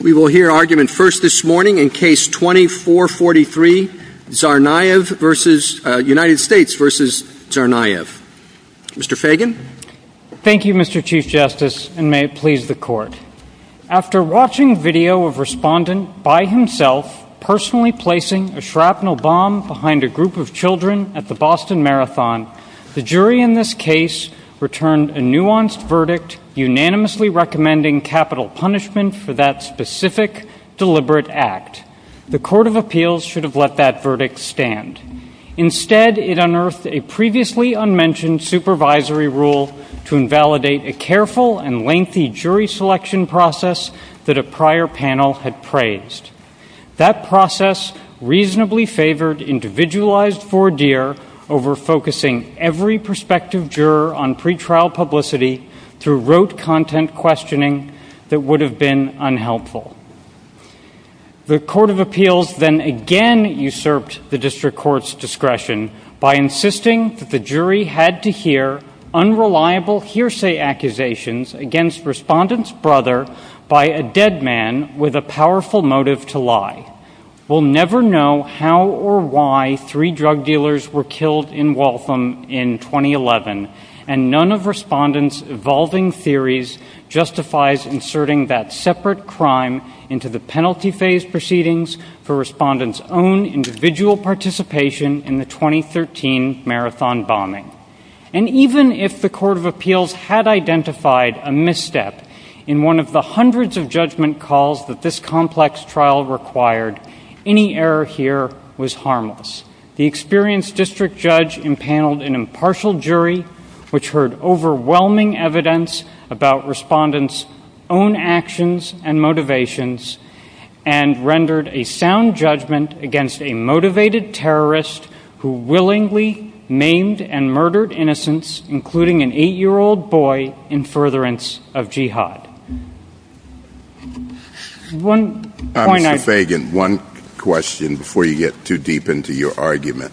We will hear argument first this morning in case 2443, United States v. Tsarnaev. Mr. Fagan. Thank you, Mr. Chief Justice, and may it please the Court. After watching video of respondent, by himself, personally placing a shrapnel bomb behind a group of children at the Boston Marathon, the jury in this case returned a nuanced verdict, unanimously recommending capital punishment for that specific deliberate act. The Court of Appeals should have let that verdict stand. Instead, it unearthed a previously unmentioned supervisory rule to invalidate a careful and lengthy jury selection process that a prior panel had praised. That process reasonably favored individualized four-deer over focusing every prospective juror on pretrial publicity through rote content questioning that would have been unhelpful. The Court of Appeals then again usurped the district court's discretion by insisting that the jury had to hear unreliable hearsay accusations against respondent's brother by a dead man with a powerful motive to lie. We'll never know how or why three drug dealers were killed in Waltham in 2011, and none of respondent's evolving theories justifies inserting that separate crime into the penalty phase proceedings for respondent's own individual participation in the 2013 Marathon bombing. And even if the Court of Appeals had identified a misstep in one of the hundreds of judgment calls that this complex trial required, any error here was harmless. The experienced district judge impaneled an impartial jury which heard overwhelming evidence about respondent's own actions and motivations and rendered a sound judgment against a motivated terrorist who willingly named and murdered innocents, including an eight-year-old boy, in furtherance of jihad. Mr. Fagan, one question before you get too deep into your argument.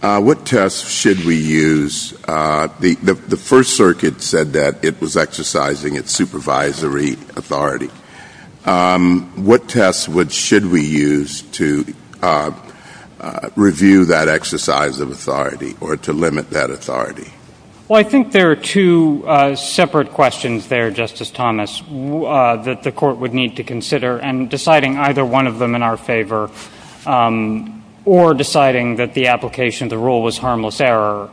What tests should we use? The First Circuit said that it was exercising its supervisory authority. What tests should we use to review that exercise of authority or to limit that authority? Well, I think there are two separate questions there, Justice Thomas. One is that the Court would need to consider, and deciding either one of them in our favor or deciding that the application of the rule was harmless error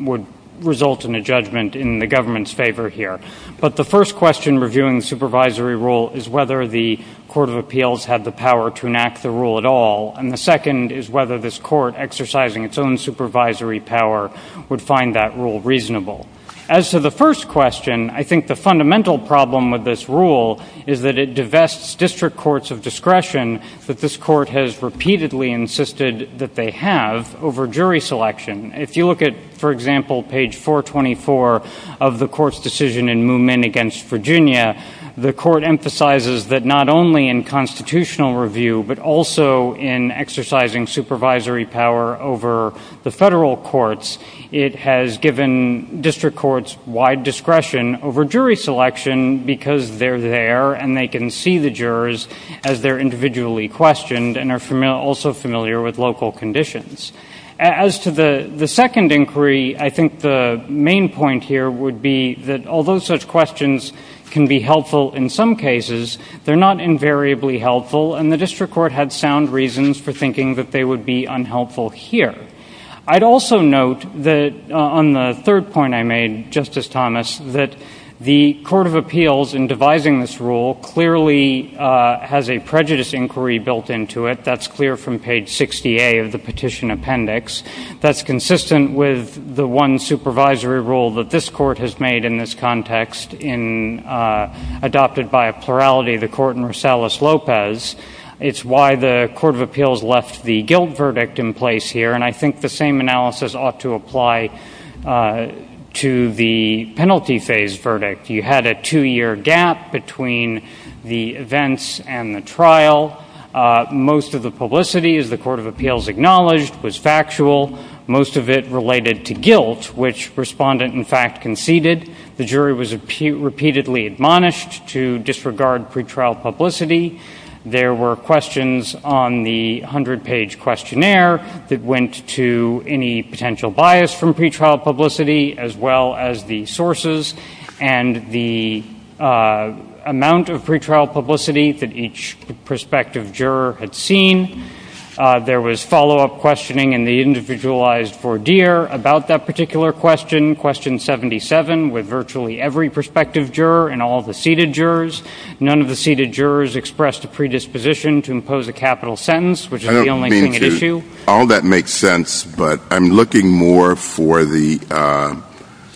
would result in a judgment in the government's favor here. But the first question reviewing the supervisory rule is whether the Court of Appeals had the power to enact the rule at all, and the second is whether this Court exercising its own supervisory power would find that rule reasonable. As to the first question, I think the fundamental problem with this rule is that it divests district courts of discretion that this Court has repeatedly insisted that they have over jury selection. If you look at, for example, page 424 of the Court's decision in Moomin v. Virginia, the Court emphasizes that not only in constitutional review but also in exercising supervisory power over the federal courts, it has given district courts wide discretion over jury selection because they're there and they can see the jurors as they're individually questioned and are also familiar with local conditions. As to the second inquiry, I think the main point here would be that although such questions can be helpful in some cases, they're not invariably helpful and the district court had sound reasons for thinking that they would be unhelpful here. I'd also note that on the third point I made, Justice Thomas, that the Court of Appeals in devising this rule clearly has a prejudice inquiry built into it. That's clear from page 60A of the petition appendix. That's consistent with the one supervisory rule that this Court has made in this context adopted by a plurality of the Court in Rosales-Lopez. It's why the Court of Appeals left the guilt verdict in place here, and I think the same analysis ought to apply to the penalty phase verdict. You had a two-year gap between the events and the trial. Most of the publicity, as the Court of Appeals acknowledged, was factual. Most of it related to guilt, which Respondent, in fact, conceded. The jury was repeatedly admonished to disregard pretrial publicity. There were questions on the 100-page questionnaire that went to any potential bias from pretrial publicity, as well as the sources and the amount of pretrial publicity that each prospective juror had seen. There was follow-up questioning in the individualized four-year about that particular question, question 77, with virtually every prospective juror and all the seated jurors. None of the seated jurors expressed a predisposition to impose a capital sentence, which is the only thing at issue. I don't think all that makes sense, but I'm looking more for the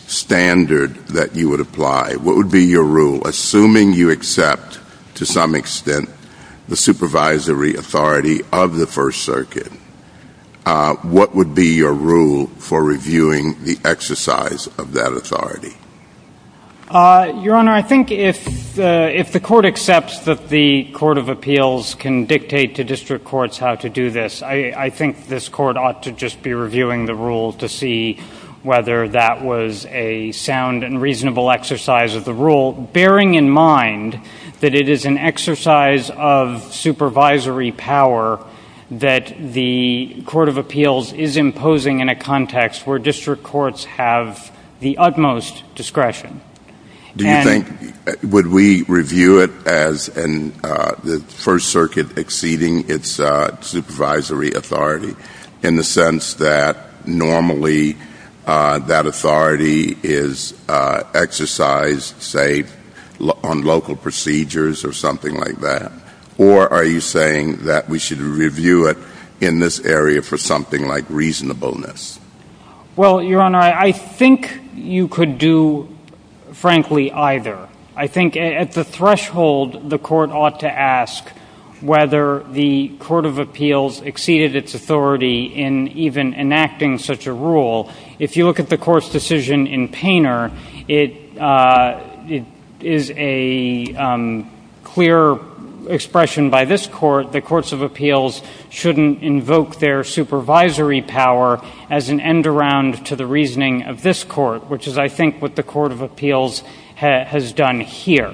standard that you would apply. What would be your rule, assuming you accept, to some extent, the supervisory authority of the First Circuit? What would be your rule for reviewing the exercise of that authority? Your Honor, I think if the Court accepts that the Court of Appeals can dictate to district courts how to do this, I think this Court ought to just be reviewing the rule to see whether that was a sound and reasonable exercise of the rule, bearing in mind that it is an exercise of supervisory power that the Court of Appeals is imposing in a context where district courts have the utmost discretion. Do you think, would we review it as the that authority is exercised, say, on local procedures or something like that? Or are you saying that we should review it in this area for something like reasonableness? Well, Your Honor, I think you could do, frankly, either. I think at the threshold, the Court ought to ask whether the Court of Appeals exceeded its authority in even enacting such a rule. If you look at the Court's decision in Painter, it is a clear expression by this Court that Courts of Appeals shouldn't invoke their supervisory power as an end-around to the reasoning of this Court, which is, I think, what the Court of Appeals has done here.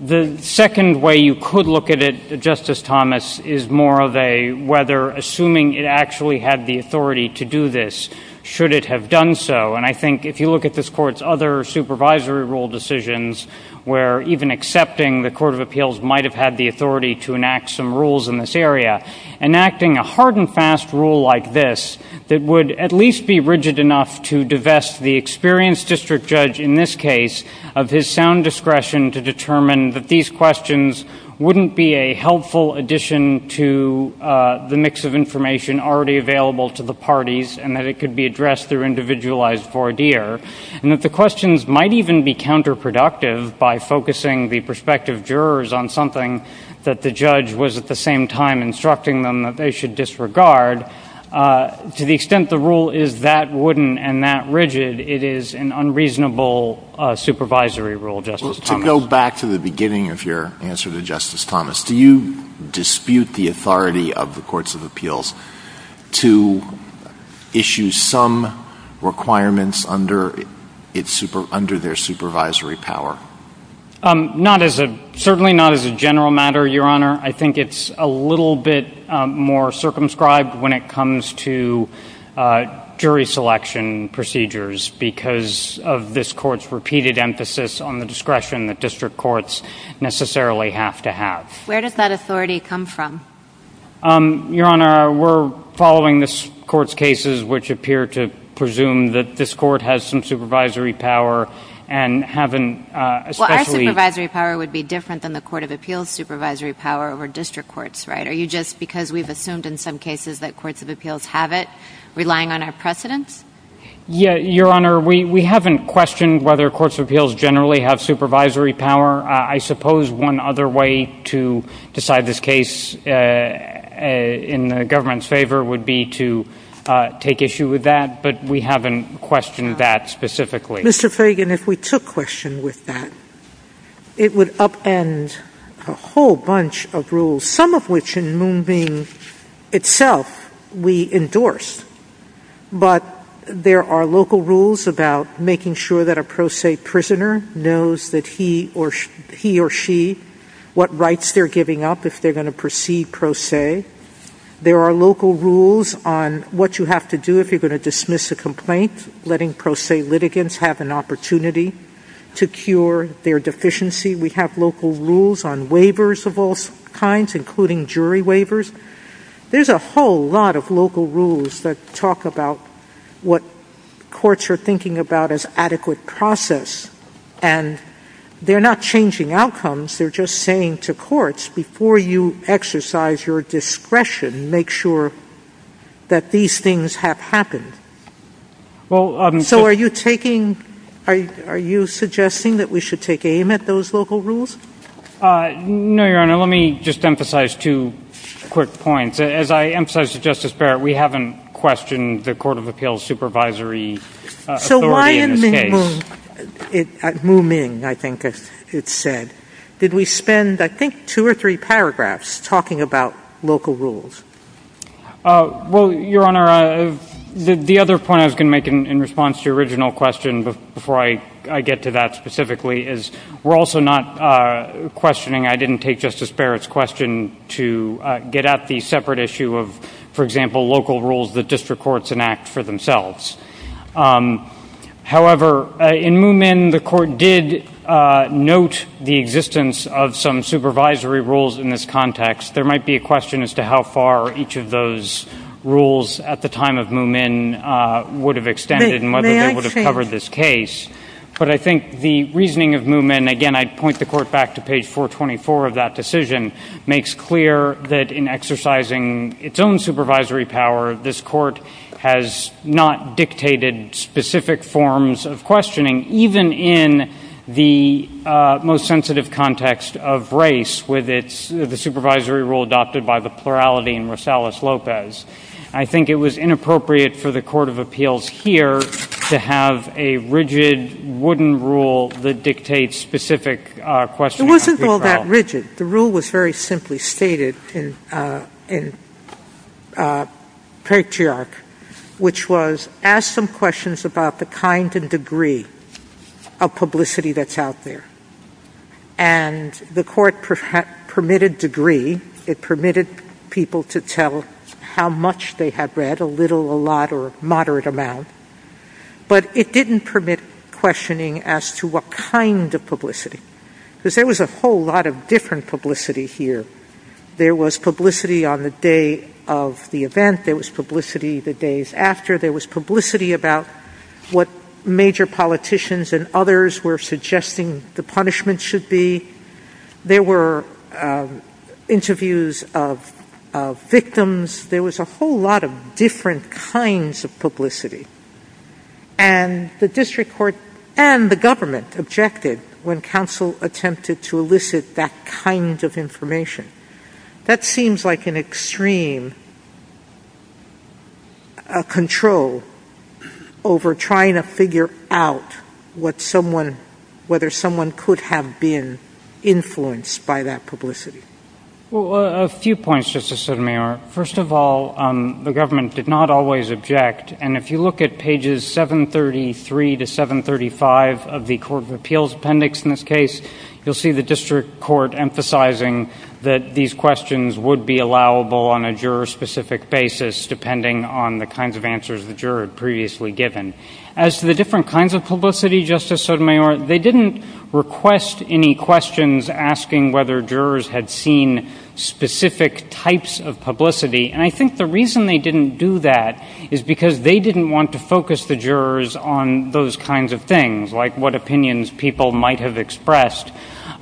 The second way you could look at it, Justice Thomas, is more of a whether, assuming it actually had the authority to do this, should it have done so. And I think if you look at this Court's other supervisory rule decisions, where even accepting the Court of Appeals might have had the authority to enact some rules in this area, enacting a hard-and-fast rule like this that would at least be rigid enough to divest the experienced district judge in this case of his sound discretion to determine that these questions wouldn't be a helpful addition to the mix of information already available to the parties, and that it could be addressed through individualized voir dire, and that the questions might even be counterproductive by focusing the prospective jurors on something that the judge was at the same time instructing them that they should disregard. To the extent the rule is that wooden and that rigid, it is an unreasonable supervisory rule, Justice Thomas. Back to the beginning of your answer to Justice Thomas, do you dispute the authority of the Courts of Appeals to issue some requirements under their supervisory power? Certainly not as a general matter, Your Honor. I think it's a little bit more circumscribed when it comes to jury selection procedures because of this Court's repeated emphasis on the discretion that district courts necessarily have to have. Where does that authority come from? Your Honor, we're following this Court's cases which appear to presume that this Court has some supervisory power and haven't... Well, our supervisory power would be different than the Court of Appeals' supervisory power over district courts, right? Are you just, because we've assumed in some cases that Courts of Appeals have it, relying on our precedent? Yeah, Your Honor, we haven't questioned whether Courts of Appeals generally have supervisory power. I suppose one other way to decide this case in the government's favor would be to take issue with that, but we haven't questioned that specifically. Mr. Fragon, if we took question with that, it would upend a whole bunch of rules, some of which in Moonbeam itself we endorse, but there are local rules about making sure that a pro se prisoner knows that he or she, what rights they're giving up if they're going to proceed pro se. There are local rules on what you have to do if you're going to dismiss a complaint, letting pro se litigants have an opportunity to cure their deficiency. We have local rules on waivers of all kinds, including jury waivers. There's a whole lot of local rules that talk about what courts are thinking about as adequate process, and they're not changing outcomes. They're just saying to courts, before you exercise your discretion, make sure that these things have happened. So are you suggesting that we should take aim at those local rules? No, Your Honor. Let me just emphasize two quick points. As I emphasized to Justice Barrett, we haven't questioned the Court of Appeals' supervisory authority in this case. So why in Moonbeam, I think it said, did we spend, I think, two or three paragraphs talking about local rules? Well, Your Honor, the other point I was going to make in response to your original question before I get to that specifically is we're also not questioning. I didn't take Justice Barrett's question to get at the separate issue of, for example, local rules that district courts enact for themselves. However, in Moomin, the Court did note the existence of some supervisory rules in this context. There might be a question as to how far each of those rules at the time of Moomin would have extended and whether they would have covered this case. But I think the reasoning of Moomin, again, I'd point the Court back to page 424 of that decision, makes clear that in exercising its own supervisory power, this Court has not dictated specific forms of questioning, even in the most sensitive context of race with the supervisory rule adopted by the plurality in the Court of Appeals here to have a rigid, wooden rule that dictates specific questions. It wasn't all that rigid. The rule was very simply stated in Patriarch, which was, ask some questions about the kind and degree of publicity that's out there. And the Court permitted degree. It permitted people to tell how much they had read, a little, a lot, or a moderate amount. But it didn't permit questioning as to what kind of publicity. Because there was a whole lot of different publicity here. There was publicity on the day of the event. There was publicity the days after. There was publicity about what major politicians and others were suggesting the punishment should be. There were kinds of publicity. And the District Court and the government objected when counsel attempted to elicit that kind of information. That seems like an extreme control over trying to figure out whether someone could have been influenced by that publicity. Well, a few points, Justice Sotomayor. First of all, the government did not always object. And if you look at pages 733 to 735 of the Court of Appeals Appendix in this case, you'll see the District Court emphasizing that these questions would be allowable on a juror-specific basis, depending on the kinds of answers the juror had previously given. As to the different kinds of publicity, Justice Sotomayor, they didn't request any questions asking whether jurors had seen specific types of publicity. And I think the reason they didn't do that is because they didn't want to focus the jurors on those kinds of things, like what opinions people might have expressed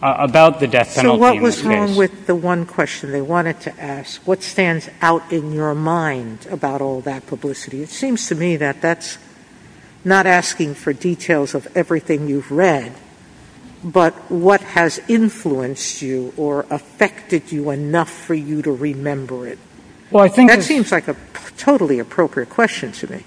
about the death penalty. So what was wrong with the one question they wanted to ask? What stands out in your mind about all that publicity? It seems to me that that's not asking for details of everything you've read, but what has influenced you or affected you enough for you to remember it. That seems like a totally appropriate question to me.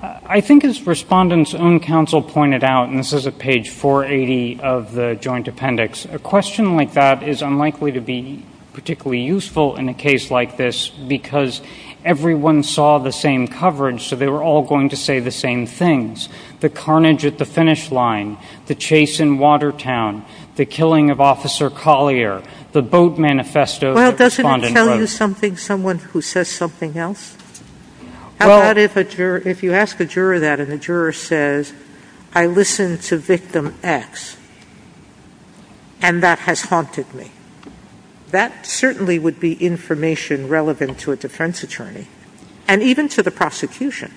I think as Respondent's own counsel pointed out, and this is at page 480 of the Joint Appendix, a question like that is unlikely to be particularly useful in a case like this, because everyone saw the same coverage, so they were all going to say the same things. The carnage at the finish line, the chase in Watertown, the killing of Officer Collier, the boat manifesto that Respondent wrote. Well, doesn't it tell you something, someone who says something else? How about if you ask a juror that and the juror says, I listened to victim X, and that has haunted me. That certainly would be information relevant to a defense attorney, and even to the prosecution.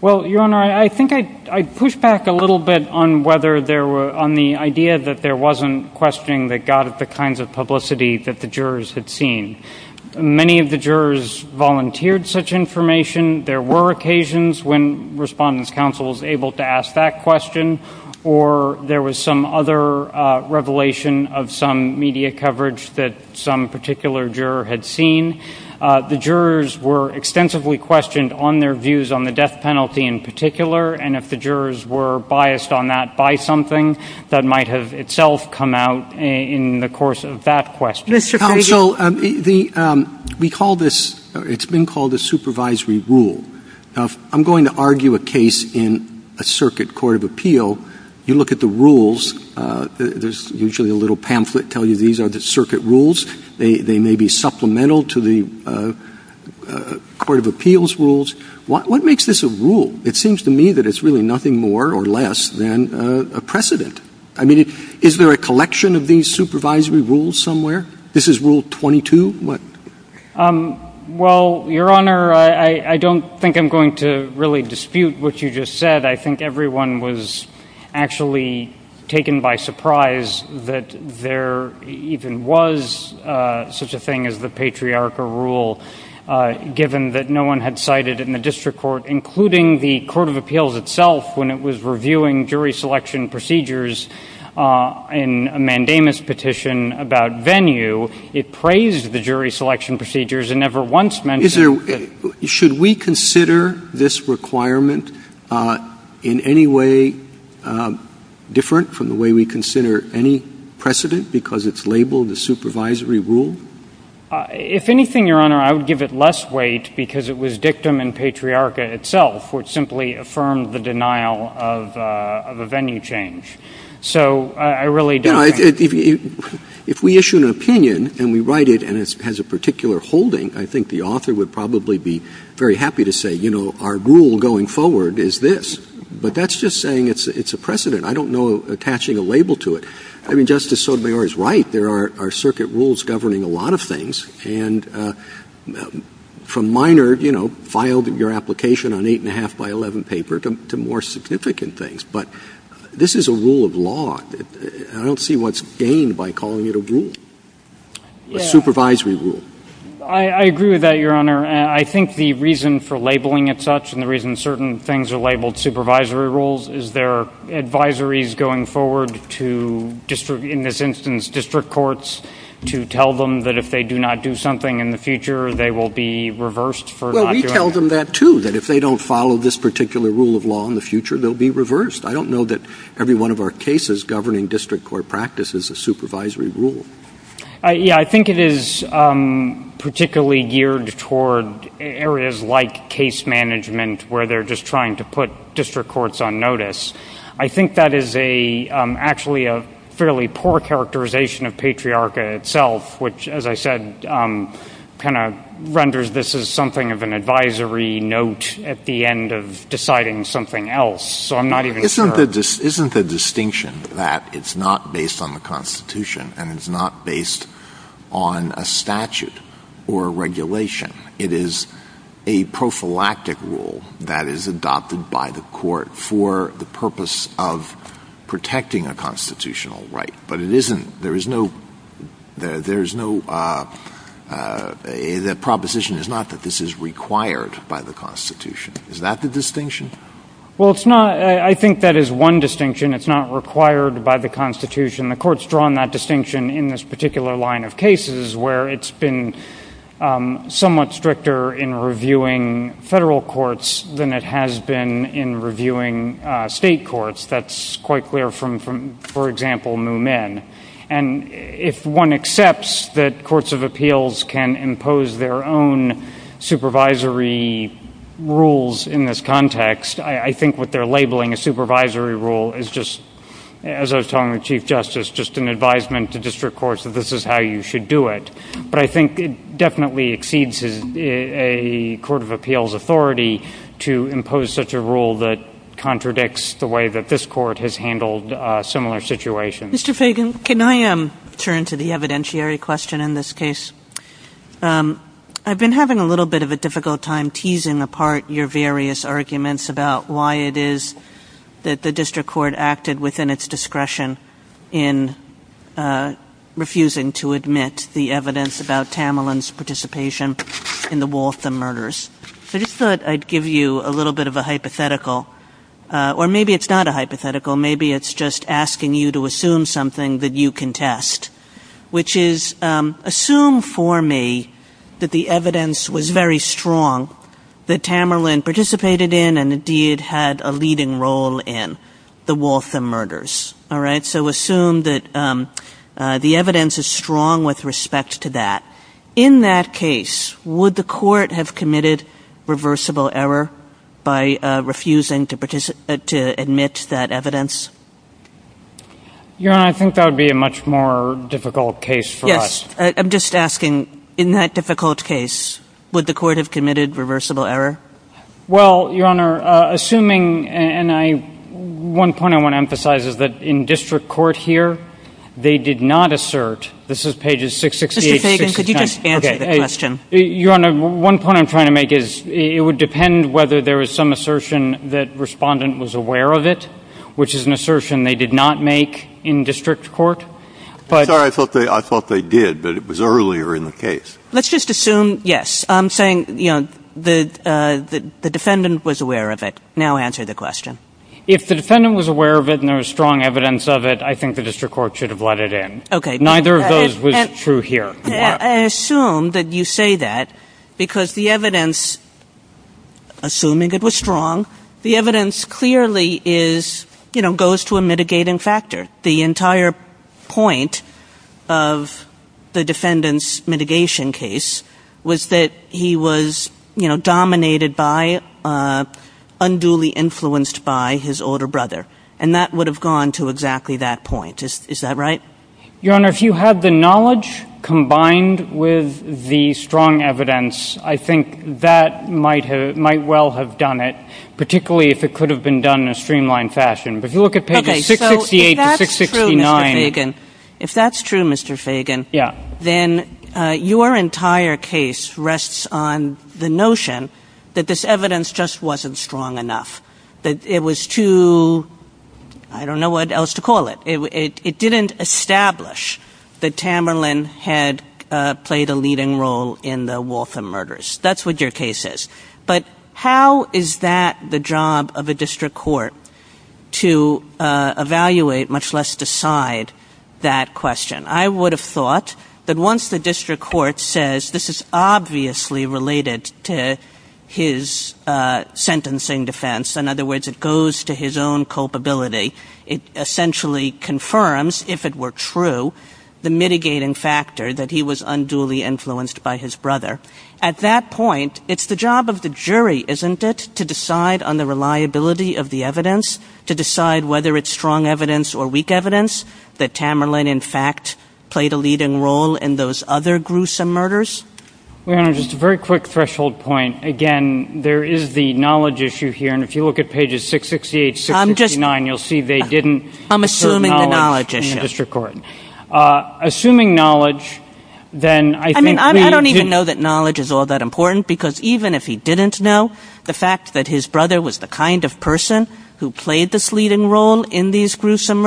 Well, Your Honor, I think I'd push back a little bit on whether there were, on the idea that there wasn't questioning that got at the kinds of publicity that the jurors had seen. Many of the jurors volunteered such information. There were occasions when Respondent's counsel was able to ask that question, or there was some other revelation of some media coverage that some particular juror had seen. The jurors were extensively questioned on their views on the death penalty in particular, and if the jurors were biased on that by something, that might have itself come out in the course of that question. Counsel, we call this, it's been called the supervisory rule. I'm going to argue a case in a circuit court of appeal. You look at the rules, there's usually a little pamphlet telling you these are the circuit rules. They may be supplemental to the court of appeals rules. What makes this a rule? It seems to me that it's really nothing more or less than a precedent. I mean, is there a collection of these supervisory rules somewhere? This is rule 22? Well, Your Honor, I don't think I'm going to really dispute what you just said. I think everyone was actually taken by surprise that there even was such a thing as the patriarchal rule, given that no one had cited in the district court, including the court of appeals itself, when it was reviewing jury selection procedures in a mandamus petition about venue. It praised the jury selection procedures and never once mentioned it. Should we consider this requirement in any way different from the way we consider any precedent because it's labeled the supervisory rule? If anything, Your Honor, I would give it less weight because it was dictum in patriarchy itself, which simply affirmed the denial of a venue change. So I really do. If we issue an opinion and we write it and it has a particular holding, I think the author would probably be very happy to say, you know, our rule going forward is this. But that's just saying it's a precedent. I don't know attaching a label to it. I mean, Justice Sotomayor is right. There are circuit rules governing a lot of things. And from minor, you know, filed your application on eight and a half by eleven paper to more significant things. But this is a rule of law. I don't see what's gained by calling it a rule. A supervisory rule. I agree with that, Your Honor. I think the reason for labeling it such and the reason certain things are labeled supervisory rules is their advisories going forward to district, in this instance, district courts to tell them that if they do not do something in the future, they will be reversed. We tell them that, too, that if they don't follow this particular rule of law in the future, they'll be reversed. I don't know that every one of our cases governing district court practice is a supervisory rule. Yeah, I think it is particularly geared toward areas like case management where they're just trying to put district courts on notice. I think that is a actually a fairly poor characterization of patriarchy itself, which, as I said, kind of renders this as something of an advisory note at the end of deciding something else. So I'm not even sure. Isn't the distinction that it's not based on the Constitution and it's not based on a statute or a regulation? It is a prophylactic rule that is adopted by the court for the purpose of there is no — that proposition is not that this is required by the Constitution. Is that the distinction? Well, it's not. I think that is one distinction. It's not required by the Constitution. The Court's drawn that distinction in this particular line of cases where it's been somewhat stricter in reviewing federal courts than it has been in reviewing state courts. That's quite clear from, for example, Moomin. And if one accepts that courts of appeals can impose their own supervisory rules in this context, I think what they're labeling a supervisory rule is just, as I was talking to Chief Justice, just an advisement to district courts that this is how you should do it. But I think it definitely exceeds a court of appeals authority to impose such a rule that contradicts the way that this court has handled similar situations. Mr. Fagan, can I turn to the evidentiary question in this case? I've been having a little bit of a difficult time teasing apart your various arguments about why it is that the district court acted within its discretion in refusing to admit the evidence about Tamalin's participation in the Waltham murders. I just thought I'd give you a little bit of a hypothetical, or maybe it's not a hypothetical. Maybe it's just asking you to assume something that you can test, which is, assume for me that the evidence was very strong that Tamalin participated in and indeed had a leading role in the Waltham murders. All right? So assume that the evidence is strong with respect to that. In that case, would the court have committed reversible error by refusing to admit that evidence? Your Honor, I think that would be a much more difficult case for us. Yes. I'm just asking, in that difficult case, would the court have committed reversible error? Well, Your Honor, assuming, and one point I want to emphasize is that in district court here, they did not assert, this is pages 668 and 669. Mr. Fagan, could you just stand for the question? One point I'm trying to make is it would depend whether there was some assertion that respondent was aware of it, which is an assertion they did not make in district court. I'm sorry, I thought they did, but it was earlier in the case. Let's just assume, yes, I'm saying the defendant was aware of it. Now answer the question. If the defendant was aware of it and there was strong evidence of it, I think the district court should have let it in. Neither of those was true here. I assume that you say that because the evidence, assuming it was strong, the evidence clearly goes to a mitigating factor. The entire point of the defendant's mitigation case was that he was dominated by, unduly influenced by his older brother, and that would have gone to exactly that point. Is that right? Your Honor, if you had the knowledge combined with the strong evidence, I think that might well have done it, particularly if it could have been done in a streamlined fashion. But if you look at pages 668 to 669. If that's true, Mr. Fagan, then your entire case rests on the notion that this evidence just wasn't strong enough, that it was too, I don't know what else to call it. It didn't establish that Tamerlan had played a leading role in the Waltham murders. That's what your case is. But how is that the job of a district court to evaluate, much less decide, that question? I would have thought that once the district court says this is obviously related to his sentencing defense, in other words, it goes to his own culpability, it essentially confirms, if it were true, the mitigating factor that he was unduly influenced by his brother. At that point, it's the job of the jury, isn't it? To decide on the reliability of the evidence, to decide whether it's strong evidence or weak evidence that Tamerlan, in fact, played a leading role in those other gruesome murders. Your Honor, just a very quick threshold point. Again, there is the knowledge issue here, and if you look at pages 668 to 669, you'll see they didn't... I'm assuming the knowledge issue. ...assuming knowledge, then I think... I mean, I don't even know that knowledge is all that important, because even if he didn't know, the fact that his brother was the kind of person who played this leading role in these gruesome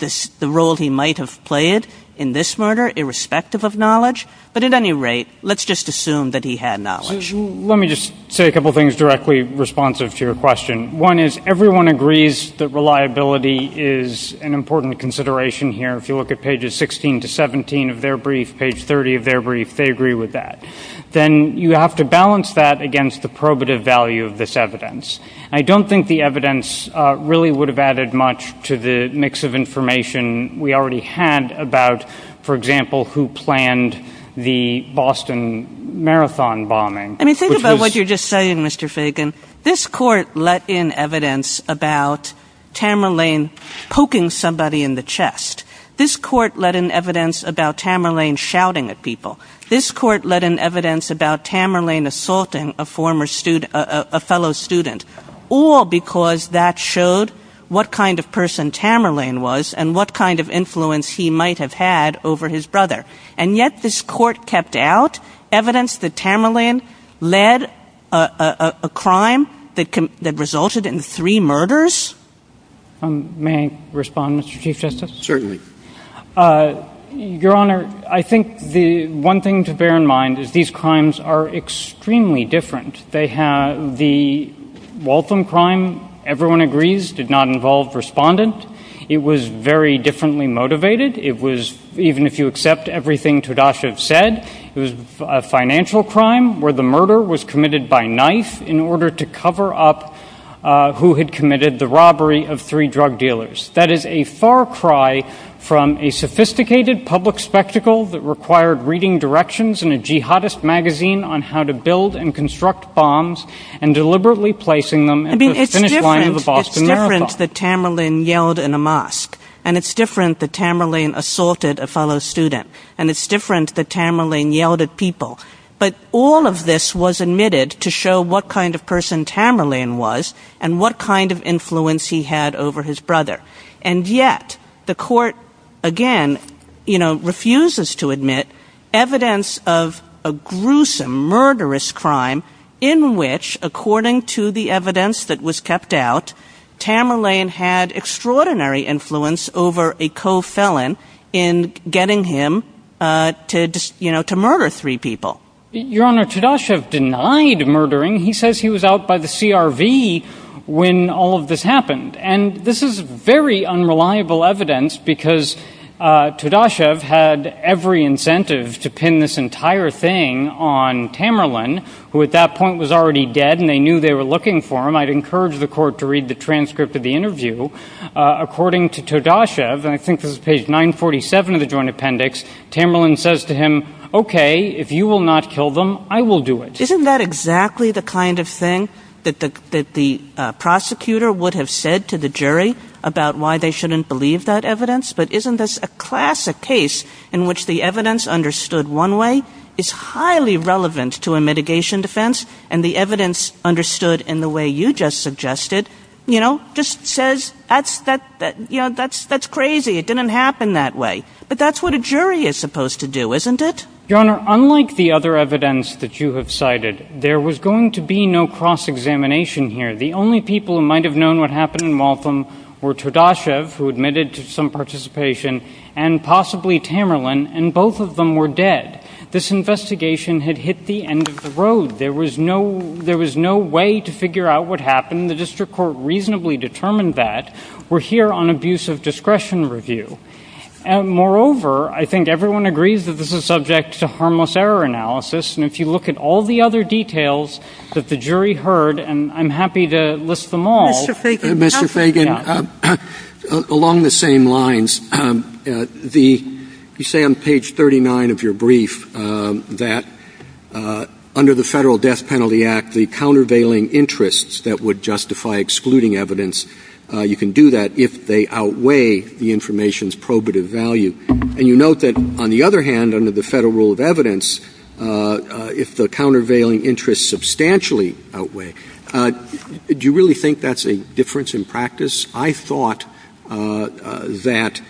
the role he might have played in this murder, irrespective of knowledge, but at any rate, let's just assume that he had knowledge. Let me just say a couple things directly responsive to your question. One is, everyone agrees that reliability is an important consideration here. If you look at pages 16 to 17 of their brief, page 30 of their brief, they agree with that. Then you have to balance that against the probative value of this evidence. I don't think the evidence really would have added much to the mix of information we already had about, for example, who planned the Boston Marathon bombing. I mean, think about what you're just saying, Mr. Fagan. This court let in evidence about Tamerlane poking somebody in the chest. This court let in evidence about Tamerlane shouting at people. This court let in evidence about Tamerlane assaulting a fellow student, all because that showed what kind of person Tamerlane was and what kind of influence he might have had over his brother. And yet this court kept out evidence that Tamerlane led a crime that resulted in three murders. May I respond, Mr. Chief Justice? Certainly. Your Honor, I think the one thing to bear in mind is these crimes are extremely different. The Waltham crime, everyone agrees, did not involve respondents. It was very differently motivated. It was, even if you accept everything Tadashi said, it was a financial crime where the murder was committed by knife in order to cover up who had committed the robbery of three drug dealers. That is a far cry from a sophisticated public spectacle that required reading directions in a jihadist magazine on how to build and construct bombs and deliberately placing them at the finish line of the Boston Marathon. I mean, it's different that Tamerlane yelled in a mosque, and it's different that Tamerlane assaulted a fellow student, and it's different that Tamerlane yelled at people. But all of this was admitted to show what kind of person Tamerlane was and what kind of influence he had over his evidence of a gruesome, murderous crime in which, according to the evidence that was kept out, Tamerlane had extraordinary influence over a co-felon in getting him to murder three people. Your Honor, Tadashi denied murdering. He says he was out by the CRV when all of this happened, and this is very unreliable evidence because Tadashi had every incentive to pin this entire thing on Tamerlane, who at that point was already dead, and they knew they were looking for him. I'd encourage the court to read the transcript of the interview. According to Tadashi, and I think this is page 947 of the Joint Appendix, Tamerlane says to him, okay, if you will not kill them, I will do it. Isn't that exactly the kind of thing that the prosecutor would have said to the jury about why they shouldn't believe that evidence? But isn't this a classic case in which the evidence understood one way is highly relevant to a mitigation defense, and the evidence understood in the way you just suggested, you know, just says that's crazy, it didn't happen that way. But that's what a jury is supposed to do, isn't it? Your Honor, unlike the other evidence that you have cited, there was going to be no cross Tadashi, who admitted to some participation, and possibly Tamerlane, and both of them were dead. This investigation had hit the end of the road. There was no way to figure out what happened. The district court reasonably determined that. We're here on abuse of discretion review. Moreover, I think everyone agrees that this is subject to harmless error analysis, and if you look at all the other details that the jury heard, and I'm happy to list them all. Mr. Fagan, along the same lines, you say on page 39 of your brief that, under the Federal Death Penalty Act, the countervailing interests that would justify excluding evidence, you can do that if they outweigh the information's probative value. And you note that, on the other hand, under the federal rule of evidence, if the countervailing interests substantially outweigh, do you really think that's a difference in practice? I thought that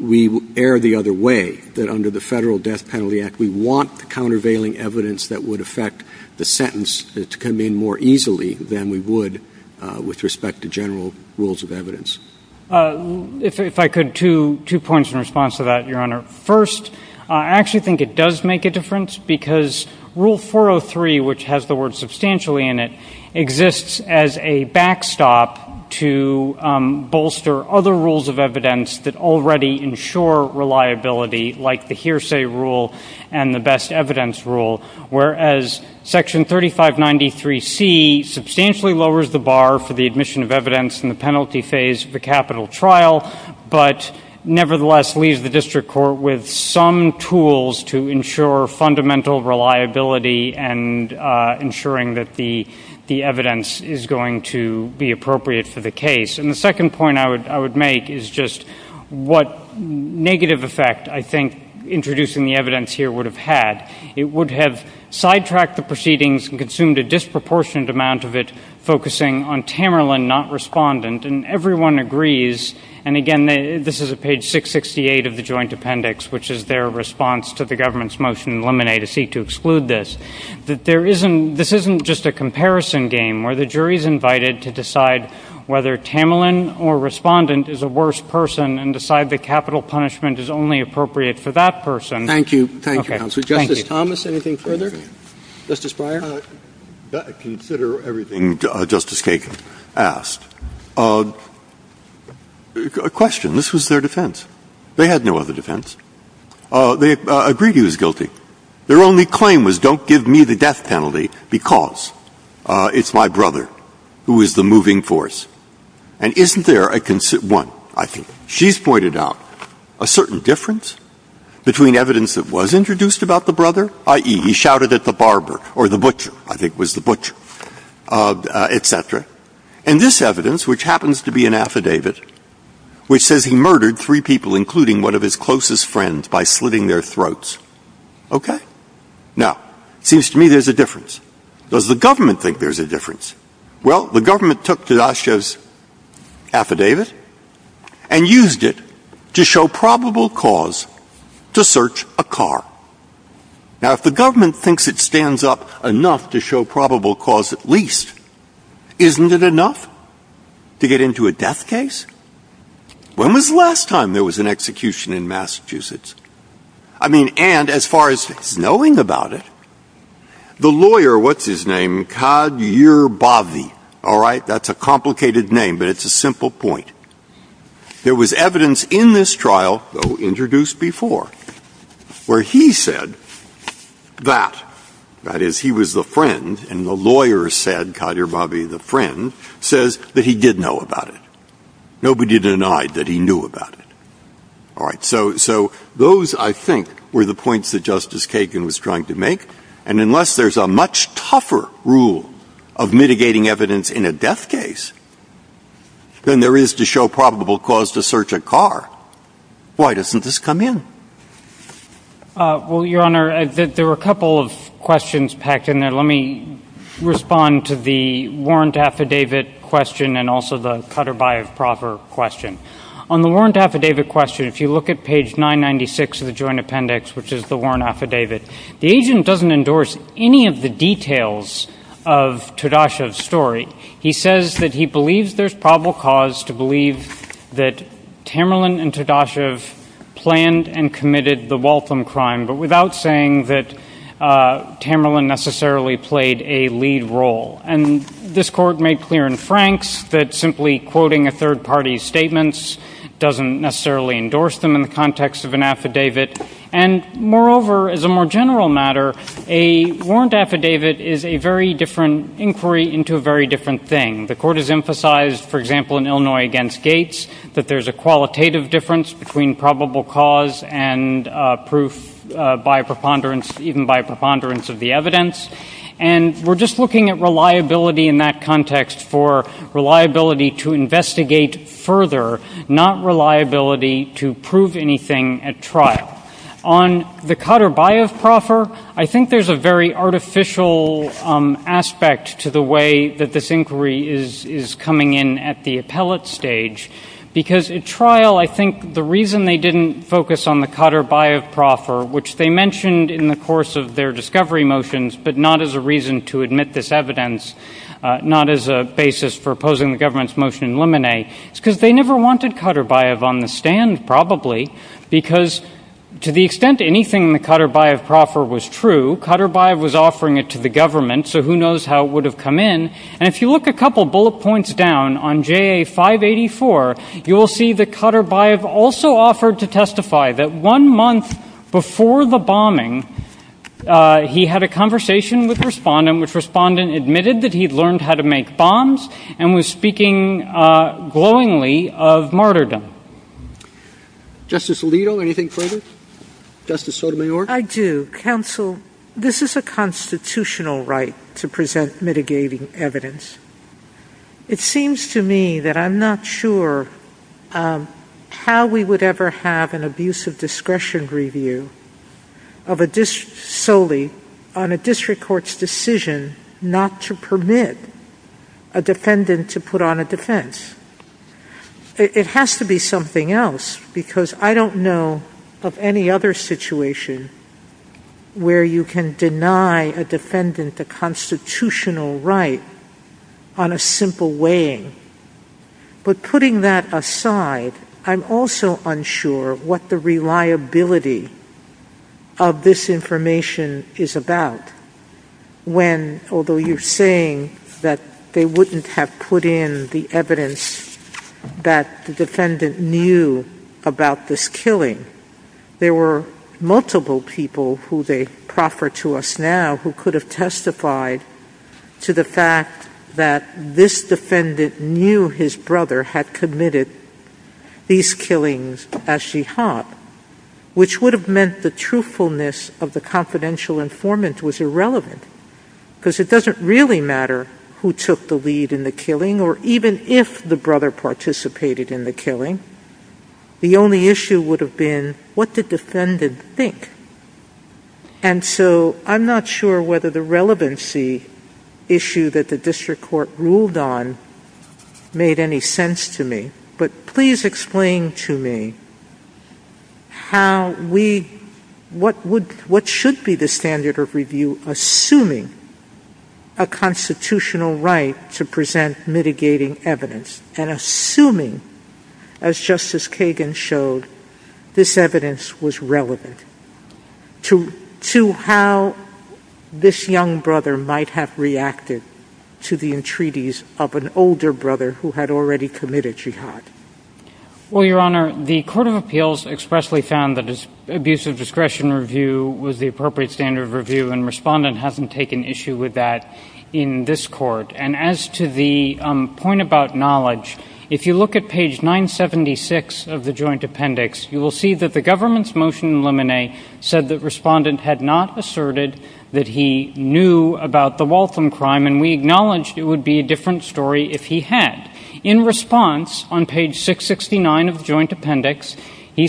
we err the other way, that under the Federal Death Penalty Act, we want the countervailing evidence that would affect the sentence to come in more easily than we would with respect to general rules of evidence. If I could, two points in response to that, first, I actually think it does make a difference, because Rule 403, which has the word substantially in it, exists as a backstop to bolster other rules of evidence that already ensure reliability, like the hearsay rule and the best evidence rule, whereas Section 3593C substantially lowers the bar for the admission of evidence in the penalty phase of the capital trial, but nevertheless leaves the district court with some tools to ensure fundamental reliability and ensuring that the evidence is going to be appropriate for the case. And the second point I would make is just what negative effect I think introducing the evidence here would have had. It would have sidetracked the proceedings and consumed a disproportionate of it, focusing on Tamerlan, not Respondent, and everyone agrees, and again, this is at page 668 of the Joint Appendix, which is their response to the government's motion in Lemonnier to seek to exclude this, that this isn't just a comparison game where the jury is invited to decide whether Tamerlan or Respondent is a worse person and decide that capital punishment is only appropriate for that person. Thank you. Thank you, counsel. Justice Thomas, anything further? Justice Breyer? I consider everything Justice Kagan asked. A question. This was their defense. They had no other defense. They agreed he was guilty. Their only claim was, don't give me the death penalty because it's my brother who is the moving force. And isn't there one, I think? She's pointed out a certain difference between evidence that was introduced about the brother, i.e., he shouted at the barber, or the butcher, I think it was the butcher, etc., and this evidence, which happens to be an affidavit, which says he murdered three people, including one of his closest friends, by slitting their throats. Okay. Now, it seems to me there's a difference. Does the government think there's a difference? Well, the government took Fidasha's affidavit and used it to show probable cause to search a car. Now, if the government thinks it stands up enough to show probable cause at least, isn't it enough to get into a death case? When was the last time there was an execution in Massachusetts? I mean, and as far as knowing about it, the lawyer, what's his name, Kadhir Bhavi, all right, that's a complicated name, but it's a simple point. There was evidence in this trial, though introduced before, where he said that, that is, he was the friend, and the lawyer said, Kadhir Bhavi, the friend, says that he did know about it. Nobody denied that he knew about it. All right. So those, I think, were the points that Justice Kagan was trying to make. And unless there's a much tougher rule of mitigating evidence in a death case, then there is to show probable cause to search a car. Why doesn't this come in? Well, Your Honor, there were a couple of questions packed in there. Let me respond to the warrant affidavit question and also the Kadhir Bhavi proper question. On the warrant affidavit question, if you look at page 996 of the joint appendix, which is the warrant affidavit, the agent doesn't endorse any of the details of Fidasha's story. He says that he believes there's probable cause to believe that Tamerlan and Fidasha planned and committed the Waltham crime, but without saying that Tamerlan necessarily played a lead role. And this Court made clear in Franks that simply quoting a third-party statement doesn't necessarily endorse them in the context of an affidavit. And moreover, as a more general matter, a warrant affidavit is a very different inquiry into a very different thing. The Court has emphasized, for example, in Illinois against Gates that there's a qualitative difference between probable cause and proof by preponderance, even by preponderance of the evidence. And we're just looking at reliability in that context for reliability to investigate further, not reliability to prove anything at trial. On the Kadhir Bhavi proper, I think there's a very important difference between Kadhir Bhavi proper and the Kadhir Bhavi trial, which is coming in at the appellate stage. Because at trial, I think the reason they didn't focus on the Kadhir Bhavi proper, which they mentioned in the course of their discovery motions, but not as a reason to admit this evidence, not as a basis for opposing the government's motion in Lemonnet, is because they never wanted Kadhir Bhavi on the stand, probably, because to the extent anything in the bullet points down on JA 584, you will see that Kadhir Bhavi also offered to testify that one month before the bombing, he had a conversation with a respondent, which respondent admitted that he'd learned how to make bombs and was speaking glowingly of martyrdom. Justice Alito, anything further? Justice Sotomayor? I do. Counsel, this is a constitutional right to present mitigating evidence. It seems to me that I'm not sure how we would ever have an abusive discretion review on a district court's decision not to permit a defendant to put on a defense. It has to be something else, because I don't know of any other situation where you can deny a defendant the constitutional right on a simple weighing. But putting that aside, I'm also unsure what the reliability of this information is about when, although you're saying that they wouldn't have put in the evidence that the defendant knew about this killing, there were multiple people who they proffer to us now who could have testified to the fact that this defendant knew his brother had committed these killings as jihad, which would have meant the truthfulness of the confidential informant was irrelevant, because it doesn't really matter who took the lead in the killing or even if the brother participated in the killing. The only issue would have been, what did the defendant think? And so I'm not sure whether the relevancy issue that the district court ruled on made any sense to me, but please explain to me how we, what should be the standard of review assuming a constitutional right to present mitigating evidence and assuming, as Justice Kagan showed, this evidence was relevant to how this young brother might have reacted to the entreaties of an older brother who had already committed jihad? Well, Your Honor, the Court of Appeals expressly found that this Abusive Discretion Review was the appropriate standard of review, and Respondent hasn't taken issue with that in this court. And as to the point about knowledge, if you look at page 976 of the Joint Appendix, you will see that the government's motion in limine said that Respondent had not asserted that he knew about the Waltham crime, and we acknowledged it would be a different story if he had. In response, on page 669 of the Joint Appendix, the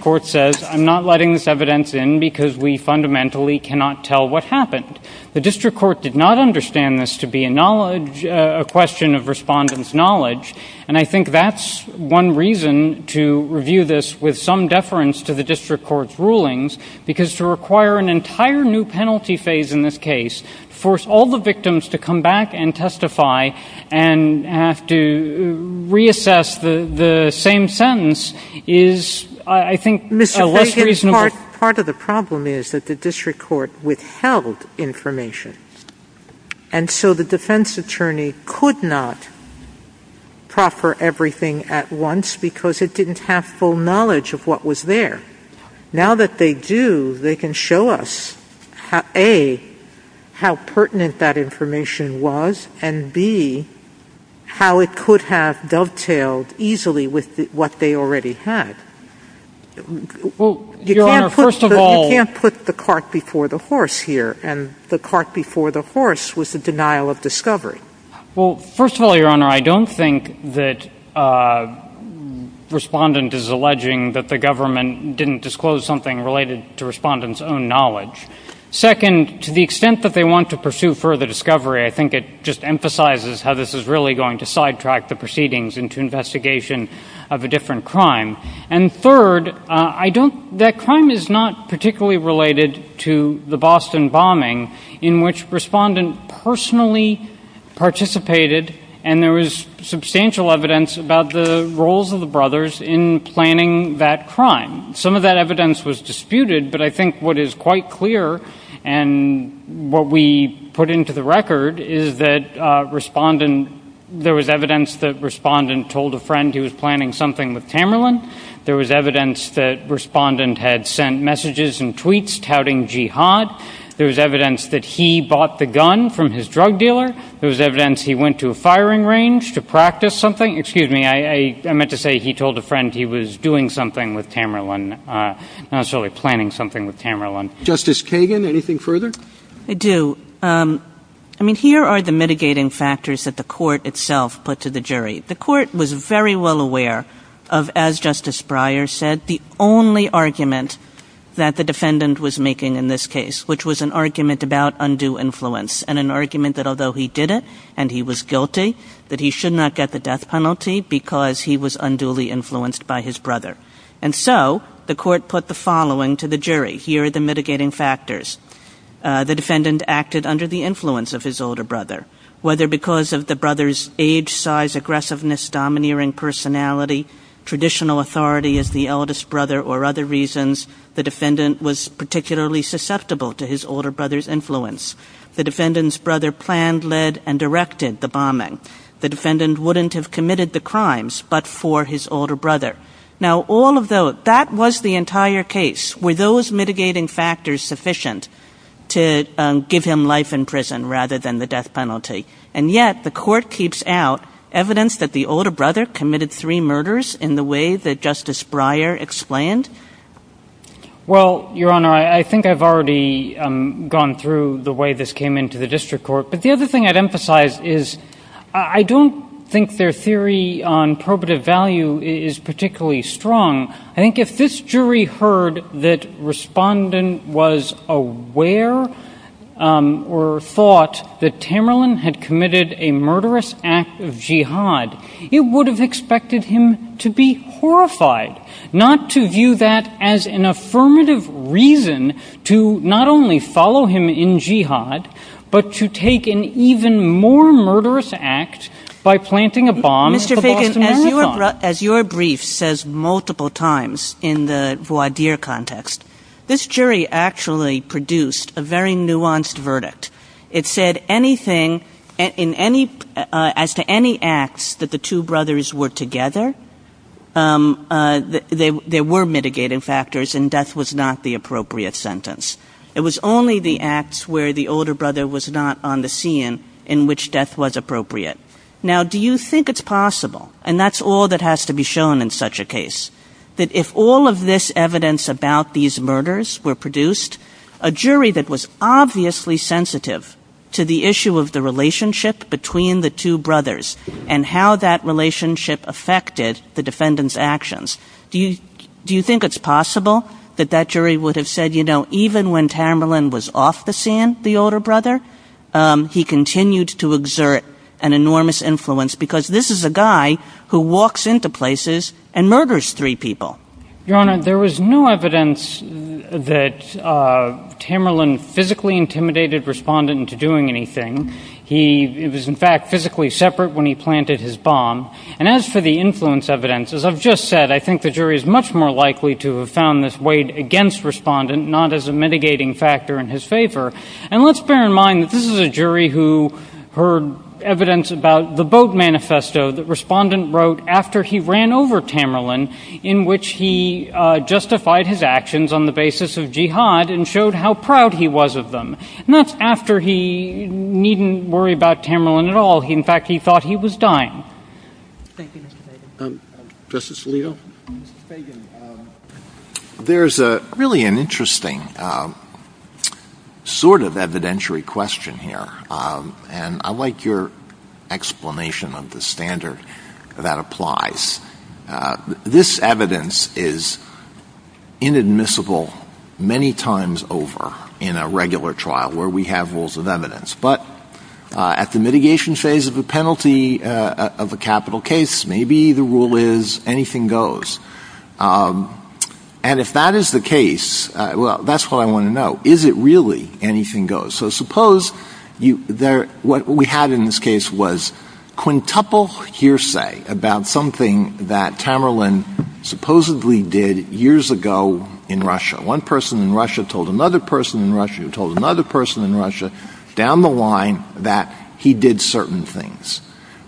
court says, I'm not letting this evidence in because we fundamentally cannot tell what happened. The district court did not understand this to be a question of Respondent's knowledge, and I think that's one reason to review this with some deference to the district court's case. To force all the victims to come back and testify and have to reassess the same sentence is, I think, less reasonable. Mr. Blankenship, part of the problem is that the district court withheld information, and so the defense attorney could not proffer everything at once because it didn't have full knowledge of what was there. Now that they do, they can show us A, how pertinent that information was, and B, how it could have dovetailed easily with what they already had. You can't put the cart before the horse here, and the cart before the horse was the denial of discovery. Well, first of all, Your Honor, I don't think that Respondent is alleging that the government didn't disclose something related to Respondent's own knowledge. Second, to the extent that they want to pursue further discovery, I think it just emphasizes how this is really going to sidetrack the proceedings into investigation of a different crime. And third, that crime is not particularly related to the Boston bombing in which Respondent personally participated, and there was substantial evidence about the roles of the brothers in that crime. Some of that evidence was disputed, but I think what is quite clear and what we put into the record is that there was evidence that Respondent told a friend he was planning something with Cameron. There was evidence that Respondent had sent messages and tweets touting jihad. There was evidence that he bought the gun from his drug dealer. There was evidence he went to a doing something with Cameron, actually planning something with Cameron. Justice Kagan, anything further? I do. I mean, here are the mitigating factors that the court itself put to the jury. The court was very well aware of, as Justice Breyer said, the only argument that the defendant was making in this case, which was an argument about undue influence, and an argument that although he did it and he was guilty, that he should not get the death penalty because he was unduly influenced by his brother. And so the court put the following to the jury. Here are the mitigating factors. The defendant acted under the influence of his older brother. Whether because of the brother's age, size, aggressiveness, domineering personality, traditional authority as the eldest brother, or other reasons, the defendant was particularly susceptible to his older brother's influence. The defendant's brother planned, led, and directed the bombing. The defendant wouldn't have committed the crimes but for his older brother. Now, all of those, that was the entire case. Were those mitigating factors sufficient to give him life in prison rather than the death penalty? And yet, the court keeps out evidence that the older brother committed three murders in the way that Justice Breyer explained? Well, Your Honor, I think I've already gone through the way this came into the district court, but the other thing I'd emphasize is I don't think their theory on probative value is particularly strong. I think if this jury heard that Respondent was aware or thought that Tamerlan had committed a murderous act of jihad, it would have expected him to be horrified, not to view that as an even more murderous act by planting a bomb. Mr. Fagan, as your brief says multiple times in the voir dire context, this jury actually produced a very nuanced verdict. It said anything, as to any acts that the two brothers were together, there were mitigating factors and death was not the appropriate sentence. It was only the acts where the older brother was not on the scene in which death was appropriate. Now, do you think it's possible, and that's all that has to be shown in such a case, that if all of this evidence about these murders were produced, a jury that was obviously sensitive to the issue of the relationship between the two brothers and how that relationship affected the defendant's actions, do you think it's possible that that jury would have said, even when Tamerlan was off the scene, the older brother, he continued to exert an enormous influence because this is a guy who walks into places and murders three people? Your Honor, there was no evidence that Tamerlan physically intimidated Respondent into doing anything. He was in fact physically separate when he planted his bomb. And as for the influence evidence, as I've just said, I think the jury is much more likely to have found this weighed against Respondent, not as a mitigating factor in his favor. And let's bear in mind that this is a jury who heard evidence about the Bogue Manifesto that Respondent wrote after he ran over Tamerlan in which he justified his actions on the basis of jihad and showed how proud he was of them. And that's after he needn't worry about Tamerlan at all. In fact, he thought he was dying. Justice Alito? There's really an interesting sort of evidentiary question here. And I like your explanation of the standard that applies. This evidence is inadmissible many times over in a regular trial where we have rules of evidence. But at the mitigation phase of the penalty of a capital case, maybe the rule is anything goes. And if that is the case, well, that's what I want to know. Is it really anything goes? So suppose what we had in this case was quintuple hearsay about something that Tamerlan supposedly did years ago in Russia. One person in Russia told another person in Russia who told another person in Russia down the line that he did certain things.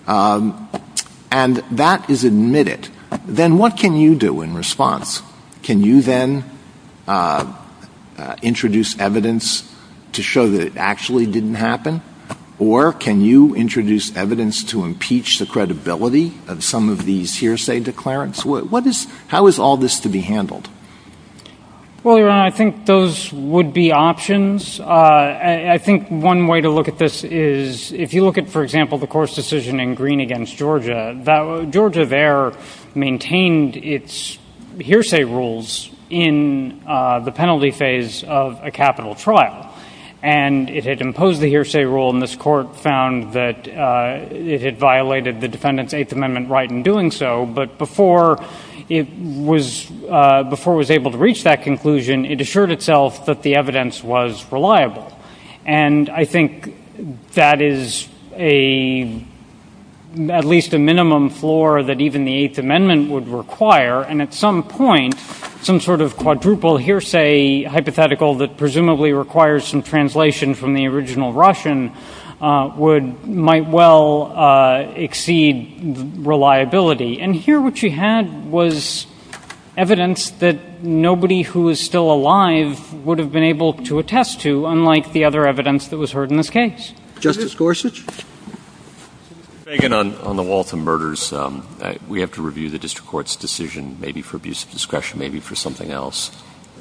And that is admitted. Then what can you do in response? Can you then introduce evidence to show that it actually didn't happen? Or can you introduce evidence to impeach the credibility of some of these hearsay declarants? How is all this to be handled? Well, Your Honor, I think those would be options. I think one way to look at this is if you look at, for example, the court's decision in Green against Georgia, Georgia there maintained its hearsay rules in the penalty phase of a capital trial. And it had imposed the hearsay rule, and this court found that it had violated the defendant's Eighth Amendment right in doing so. But before it was able to reach that conclusion, it assured itself that the evidence was reliable. And I think that is at least a minimum floor that even the Eighth Amendment would require. And at some point, some sort of quadruple hearsay hypothetical that presumably requires some translation from the original Russian might well exceed reliability. And here what you had was evidence that nobody who is still alive would have been able to attest to, unlike the other evidence that was heard in this case. Justice Gorsuch? Mr. Fagan, on the Waltham murders, we have to review the district court's decision, maybe for abuse of discretion, maybe for something else.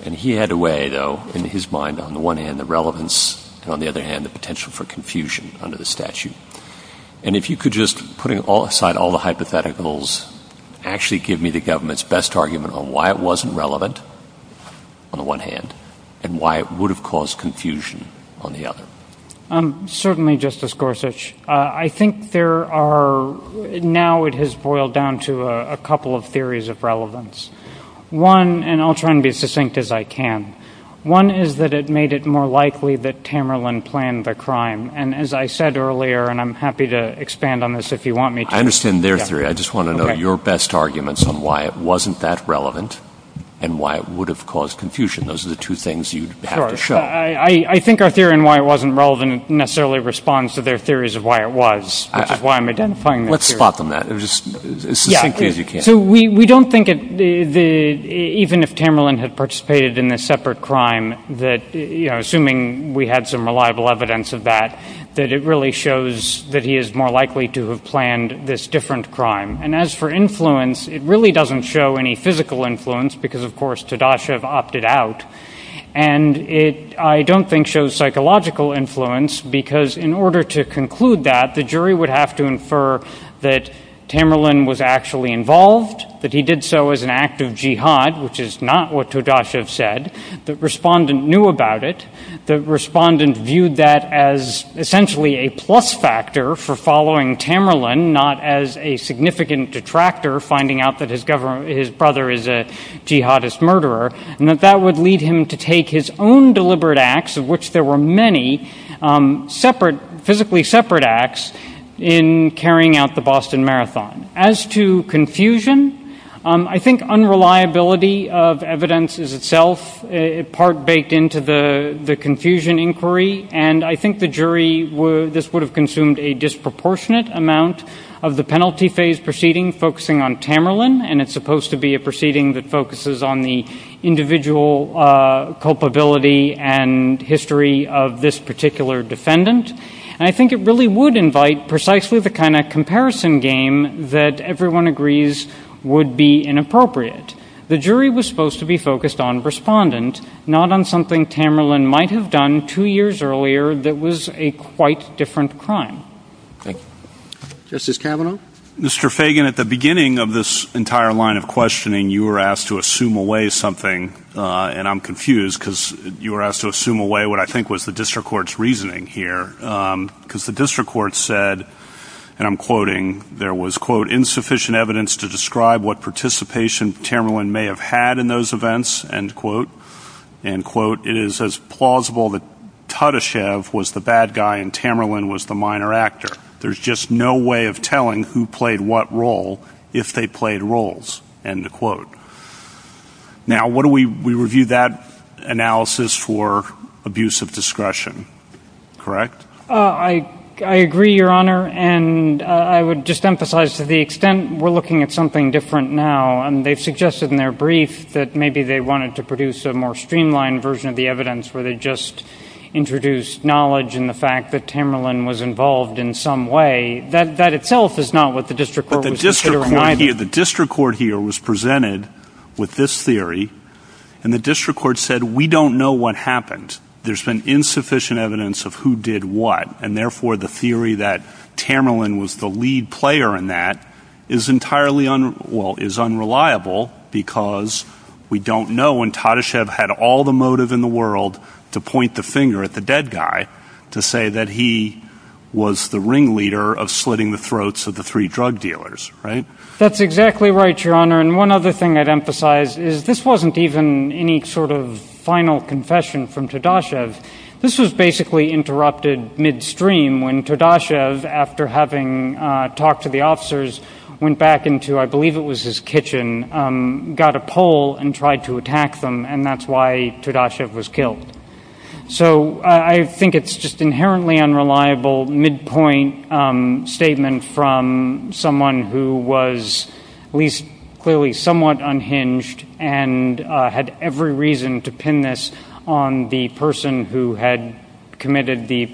And he had a way, though, in his mind, on the one hand, the relevance, and on the other hand, the potential for confusion under the statute. And if you could just, putting aside all the hypotheticals, actually give me the government's best argument on why it wasn't relevant on the one hand, and why it would have caused confusion on the other. Certainly, Justice Gorsuch. I think there are, now it has boiled down to a couple of theories of relevance. One, and I'll try and be as succinct as I can. One is that it made it more likely that Tamerlan planned the crime. And as I said earlier, and I'm happy to expand on this, if you want me to. I understand their theory. I just want to know your best arguments on why it wasn't that relevant, and why it would have caused confusion. Those are the two things you'd have to show. I think our theory on why it wasn't relevant necessarily responds to their theories of why it was, which is why I'm identifying that theory. Let's spot them, then, as succinctly as you can. We don't think, even if Tamerlan had participated in a separate crime, that, assuming we had some reliable evidence of that, that it really shows that he is more likely to have planned this different crime. And as for influence, it really doesn't show any physical influence, because of course, Tadashev opted out. And it, I don't think, shows psychological influence, because in order to conclude that, the jury would have to infer that Tamerlan was actually involved, that he did so as an act of jihad, which is not what Tadashev said. The respondent knew about it. The respondent viewed that as, essentially, a plus factor for following Tamerlan, not as a significant detractor, finding out that his brother is a jihadist murderer, and that that would lead him to own deliberate acts, of which there were many separate, physically separate acts, in carrying out the Boston Marathon. As to confusion, I think unreliability of evidence is itself part baked into the confusion inquiry, and I think the jury, this would have consumed a disproportionate amount of the penalty phase proceeding focusing on Tamerlan, and it's supposed to be a proceeding that focuses on the individual culpability and history of this particular defendant. And I think it really would invite precisely the kind of comparison game that everyone agrees would be inappropriate. The jury was supposed to be focused on respondent, not on something Tamerlan might have done two years earlier that was a quite different crime. Thank you. Justice Kavanaugh? Mr. Fagan, at the beginning of this entire line of questioning, you were asked to assume away something, and I'm confused because you were asked to assume away what I think was the district court's reasoning here, because the district court said, and I'm quoting, there was, quote, insufficient evidence to describe what participation Tamerlan may have had in those events, end quote, end quote. It is as plausible that Tadashev was the bad guy and there's just no way of telling who played what role if they played roles, end quote. Now, we reviewed that analysis for abuse of discretion, correct? I agree, Your Honor, and I would just emphasize to the extent we're looking at something different now, and they've suggested in their brief that maybe they wanted to produce a more streamlined version of the evidence where they just introduced knowledge and the fact that Tamerlan was involved in some way, that itself is not what the district court was considering. The district court here was presented with this theory, and the district court said, we don't know what happened. There's been insufficient evidence of who did what, and therefore the theory that Tamerlan was the lead player in that is entirely, well, is unreliable because we don't know, and Tadashev had all the motive in the world to point the finger at the dead guy to say that he was the ringleader of slitting the throats of the three drug dealers, right? That's exactly right, Your Honor, and one other thing I'd emphasize is this wasn't even any sort of final confession from Tadashev. This was basically interrupted midstream when Tadashev, after having talked to the officers, went back into, I believe it was his kitchen, got a pole and tried to attack them, and that's why Tadashev was killed. So I think it's just an inherently unreliable midpoint statement from someone who was at least clearly somewhat unhinged and had every reason to pin this on the person who had committed the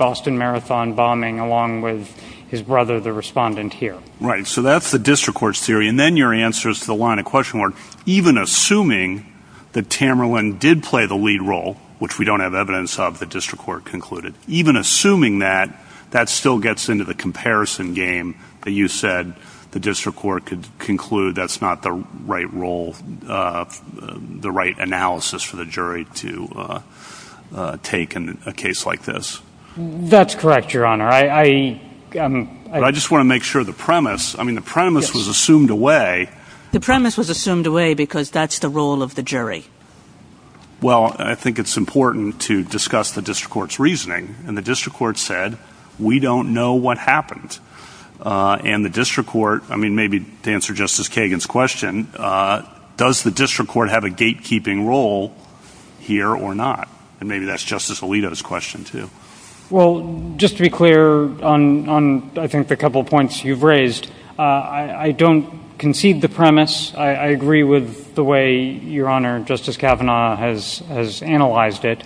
his brother, the respondent here. Right, so that's the district court's theory, and then your answer is to the line of question where even assuming that Tamerlan did play the lead role, which we don't have evidence of, the district court concluded, even assuming that, that still gets into the comparison game that you said the district court could conclude that's not the right role, the right analysis for the jury to take in a case like this. That's correct, Your Honor. I just want to make sure the premise, I mean, the premise was assumed away. The premise was assumed away because that's the role of the jury. Well, I think it's important to discuss the district court's reasoning, and the district court said, we don't know what happened. And the district court, I mean, maybe to answer Justice Kagan's question, does the district court have a gatekeeping role here or not? And maybe that's Justice Alito's question, too. Well, just to be clear on, I think, the couple of points you've raised, I don't concede the premise. I agree with the way, Your Honor, Justice Kavanaugh has analyzed it,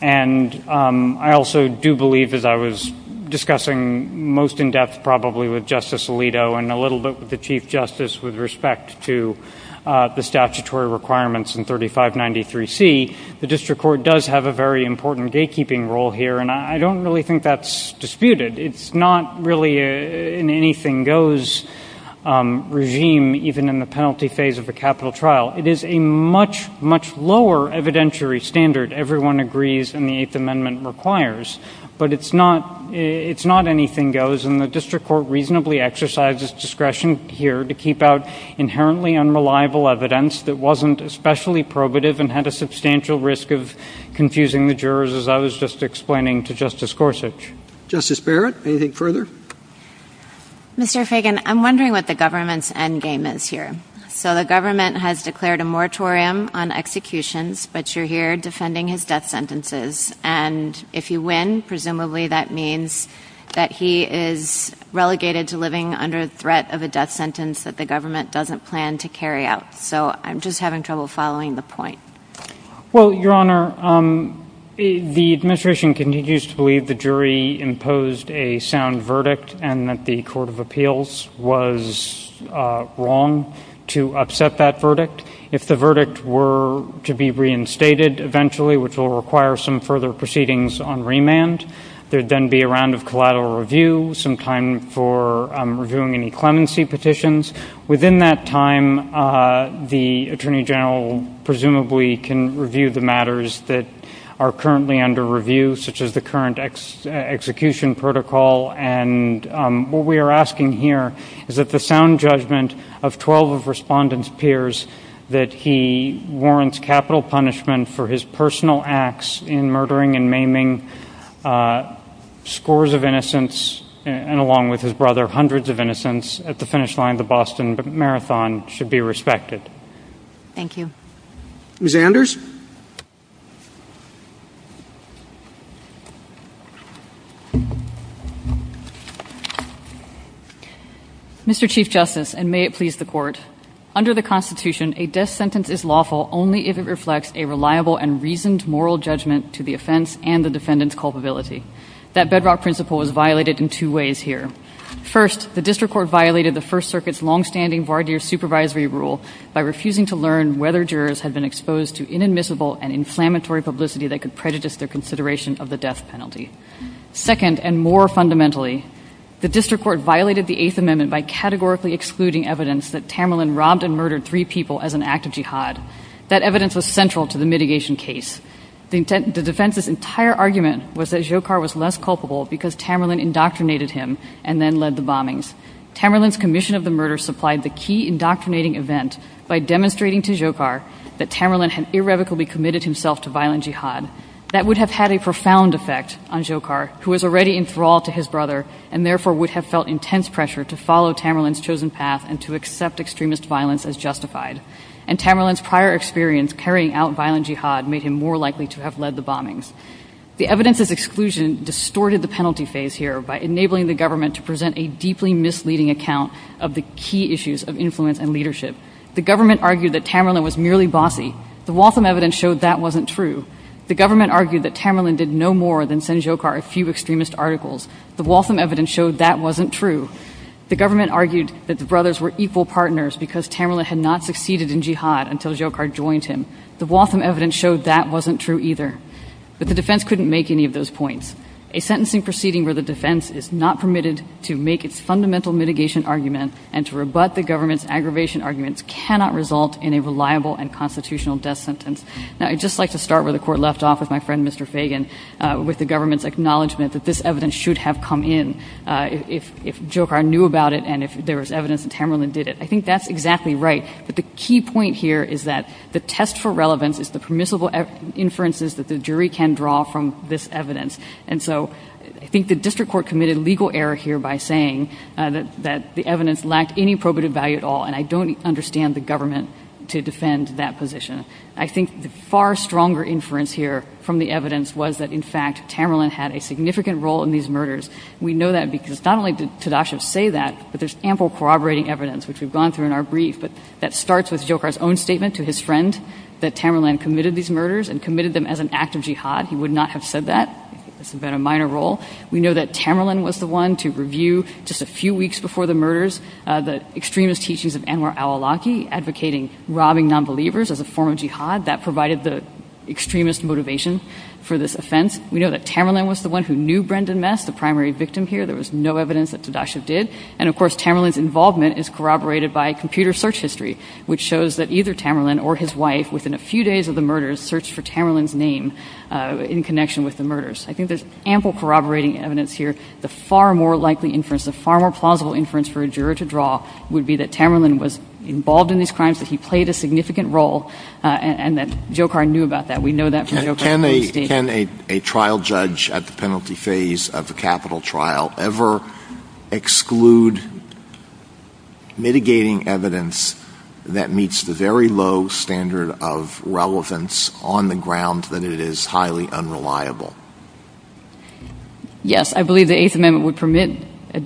and I also do believe that I was discussing most in-depth probably with Justice Alito and a little bit with the Chief Justice with respect to the statutory requirements in 3593C. The district court does have a very important gatekeeping role here, and I don't really think that's disputed. It's not really an anything-goes regime, even in the penalty phase of a capital trial. It is a much, much lower evidentiary standard. Everyone agrees in the Eighth Amendment requires, but it's not anything-goes, and the district court exercises discretion here to keep out inherently unreliable evidence that wasn't especially probative and had a substantial risk of confusing the jurors, as I was just explaining to Justice Gorsuch. Justice Barrett, anything further? Mr. Fagan, I'm wondering what the government's endgame is here. So the government has declared a moratorium on executions, but you're here defending his death sentences, and if he wins, presumably that means that he is relegated to living under threat of a death sentence that the government doesn't plan to carry out. So I'm just having trouble following the point. Well, Your Honor, the administration continues to believe the jury imposed a sound verdict and that the Court of Appeals was wrong to upset that verdict. If the verdict were to be reinstated eventually, which will require some further proceedings on remand, there would then be a round of collateral review, some time for reviewing any clemency petitions. Within that time, the Attorney General presumably can review the matters that are currently under review, such as the current execution protocol, and what we are asking here is that the sound judgment of 12 of Respondent's peers that he warrants capital punishment for his personal acts in murdering and maiming scores of innocents, and along with his brother, hundreds of innocents, at the finish line of the Boston Marathon should be respected. Thank you. Ms. Anders? Mr. Chief Justice, and may it please the Court, under the Constitution, a death sentence is lawful only if it reflects a reliable and reasoned moral judgment to the offense and the defendant's culpability. That bedrock principle is violated in two ways here. First, the district court violated the First Circuit's long-standing voir dire supervisory rule by refusing to learn whether jurors had been exposed to inadmissible and inflammatory publicity that could prejudice their consideration of the death penalty. Second, and more fundamentally, the district court violated the Eighth Amendment by categorically excluding evidence that Tamerlan robbed and murdered three people as an act of jihad. That evidence was central to the mitigation case. The defense's entire argument was that Jokar was less culpable because Tamerlan indoctrinated him and then led the bombings. Tamerlan's commission of the murder supplied the key indoctrinating event by demonstrating to Jokar that Tamerlan had irrevocably committed himself to violent jihad. That would have had a profound effect on Jokar, who was already in thrall to his brother and therefore would have felt intense pressure to follow Tamerlan's chosen path and to accept extremist violence as justified. And Tamerlan's prior experience carrying out violent jihad made him more likely to have led the bombings. The evidence's exclusion distorted the penalty phase here by enabling the government to present a deeply misleading account of the key issues of influence and leadership. The government argued that Tamerlan was merely bossy. The Waltham evidence showed that wasn't true. The government argued that Tamerlan did no more than send Jokar a few extremist articles. The Waltham evidence showed that wasn't true. The government argued that the brothers were equal partners because Tamerlan had not succeeded in jihad until Jokar joined him. The Waltham evidence showed that wasn't true either. But the defense couldn't make any of those points. A sentencing proceeding where the defense is not permitted to make its fundamental mitigation argument and to rebut the government's aggravation arguments cannot result in a reliable and constitutional death sentence. Now I'd just like to start where the court left off with my friend Mr. Fagan with the government's acknowledgement that this evidence should have come in if Jokar knew about it and if there was evidence that Tamerlan did it. I think that's exactly right. But the key point here is that the test for relevance is the permissible inferences that the jury can draw from this evidence. And so I think the district court committed legal error here by saying that the evidence lacked any probative value at all and I don't understand the government to defend that position. I think the far stronger inference here from the evidence was that in fact Tamerlan had a significant role in these murders. We know that because not only did Tadashi say that, but there's ample corroborating evidence which we've gone through in our brief that starts with Jokar's own statement to his friend that Tamerlan committed these murders and committed them as an act of jihad. He would not have said that. It's been a minor role. We know that Tamerlan was the one to review just a few weeks before the murders the extremist teachings of Anwar al-Awlaki advocating robbing non-believers as a form of jihad that provided the extremist motivation for this offense. We know that Tamerlan was the one who knew Brendan Mess, the primary victim here. There was no evidence that Tadashi did. And of course Tamerlan's involvement is corroborated by computer search history which shows that either Tamerlan or his wife within a few days of the murders searched for Tamerlan's name in connection with the murders. I think there's ample corroborating evidence here. The far more likely inference, the far more plausible inference for a juror to draw would be that Tamerlan was involved in these crimes that he played a significant role and that Jokar knew about that. We know that. Can a trial judge at the penalty phase of the capital trial ever exclude mitigating evidence that meets the very low standard of relevance on the ground that it is highly unreliable? Yes, I believe the eighth amendment would permit a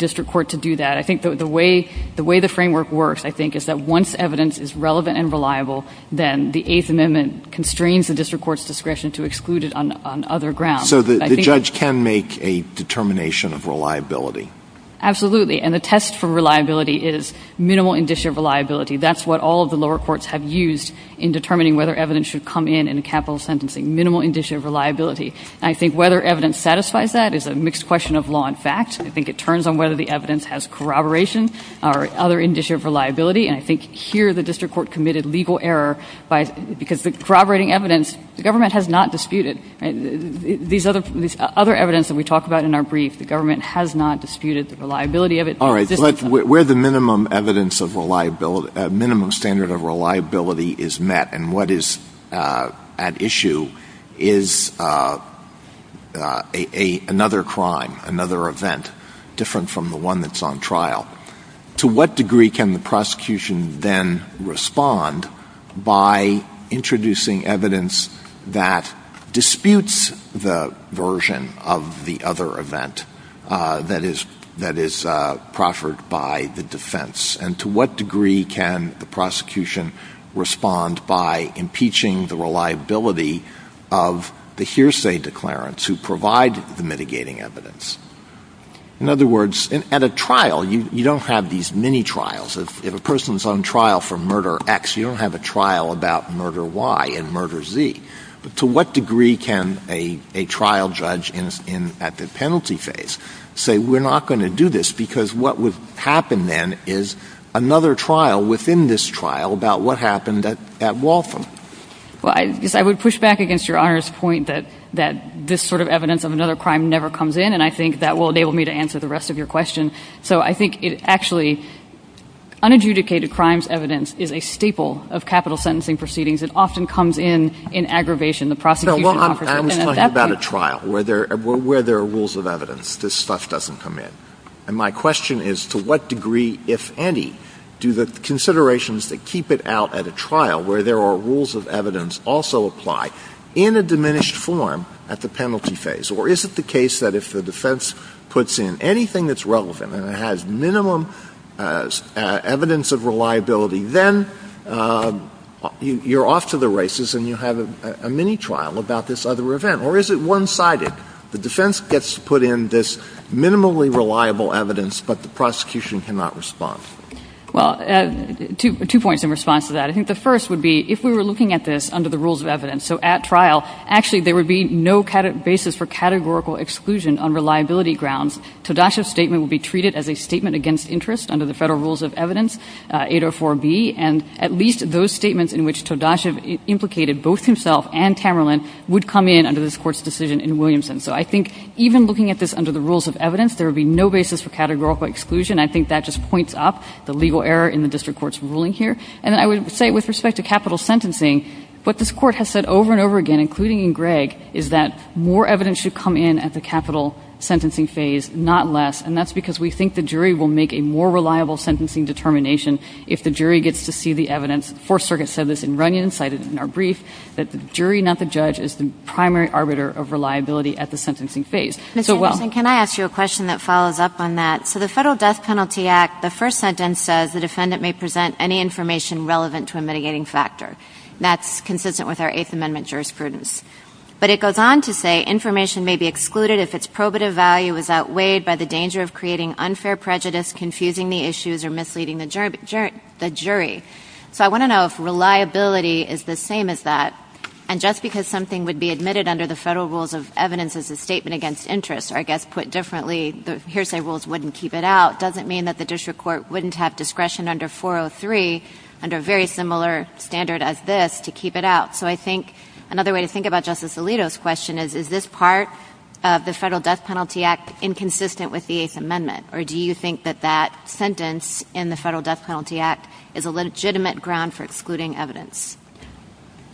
framework that once evidence is relevant and reliable then the eighth amendment constrains the district court's discretion to exclude it on other grounds. So the judge can make a determination of reliability? Absolutely, and the test for reliability is minimal indicia of reliability. That's what all the lower courts have used in determining whether evidence should come in in capital sentencing. Minimal indicia of reliability. I think whether evidence satisfies that is a mixed question of law and fact. I think it turns on whether the evidence has corroboration or other indicia of reliability and I think here the district court committed legal error by because the corroborating evidence the government has not disputed and these other evidence that we talked about in our brief the government has not disputed the reliability of it. All right, but where the minimum evidence of reliability, minimum standard of reliability is met and what is at issue is another crime, another event different from the one that's on trial. To what degree can the prosecution then respond by introducing evidence that disputes the version of the other event that is proffered by the defense and to what degree can the prosecution respond by impeaching the reliability of the hearsay declarants who provide the mini-trials. If a person is on trial for murder X you don't have a trial about murder Y and murder Z. To what degree can a trial judge at the penalty phase say we're not going to do this because what would happen then is another trial within this trial about what happened at Waltham. I would push back against your honor's point that this sort of evidence of another crime never comes in and I think that will enable me to answer the rest of your question. So, I think it actually unadjudicated crimes evidence is a staple of capital sentencing proceedings. It often comes in in aggravation. The prosecution. I'm talking about a trial where there are rules of evidence. This stuff doesn't come in and my question is to what degree if any do the considerations that keep it out at a trial where there are rules of evidence also apply in a diminished form at the penalty phase or is it the case that if the defense puts in anything that's relevant and it has minimum evidence of reliability then you're off to the races and you have a mini-trial about this other event or is it one-sided the defense gets to put in this minimally reliable evidence but the prosecution cannot respond. Well, two points in response to that I think the first would be if we were looking at this under the rules of evidence so at trial actually there would be no kind of basis for categorical exclusion on reliability grounds. Tadasha's statement would be treated as a statement against interest under the federal rules of evidence 804b and at least those statements in which Tadasha implicated both himself and Tamerlan would come in under this court's decision in Williamson. So, I think even looking at this under the rules of evidence there would be no basis for categorical exclusion. I think that just points up the legal error in the district court's ruling here and I would say with respect to capital sentencing what this court has said over and over again including in Gregg is that more evidence should come in at the capital sentencing phase not less and that's because we think the jury will make a more reliable sentencing determination if the jury gets to see the evidence. Fourth Circuit said this in Runyonside in our brief that the jury not the judge is the primary arbiter of reliability at the sentencing phase. Mr. Wilson, can I ask you a question that follows up on that? So, the federal death penalty act the first sentence says the defendant may present any information relevant to jurisprudence but it goes on to say information may be excluded if its probative value is outweighed by the danger of creating unfair prejudice confusing the issues or misleading the jury. So, I want to know if reliability is the same as that and just because something would be admitted under the federal rules of evidence as a statement against interest or I guess put differently the hearsay rules wouldn't keep it out doesn't mean that the district court wouldn't have discretion under 403 under a very similar standard as this to keep it out. So, I think another way to think about Justice Alito's question is is this part of the federal death penalty act inconsistent with the eighth amendment or do you think that that sentence in the federal death penalty act is a legitimate ground for excluding evidence?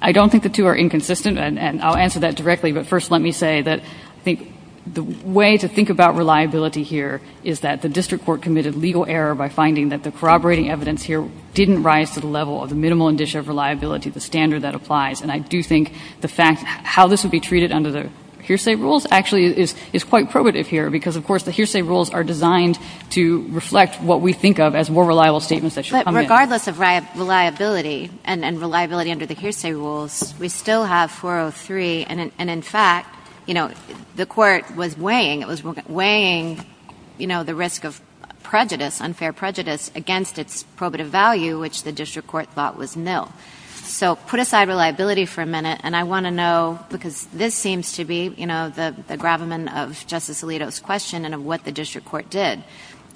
I don't think the two are inconsistent and I'll answer that directly but first let me say that I think the way to think about reliability here is that the district court committed legal error by finding that the corroborating evidence here didn't rise to the level of the minimal indicia of reliability the standard that applies and I do think the fact how this would be treated under the hearsay rules actually is quite probative here because of course the hearsay rules are designed to reflect what we think of as more reliable statements that should come in. Regardless of reliability and reliability under the hearsay rules we still have 403 and in fact you know the court was weighing it was weighing you know the risk of prejudice unfair prejudice against its probative value which the district court thought was nil. So, put aside reliability for a minute and I want to know because this seems to be you know the the gravamen of Justice Alito's question and of what the district court did.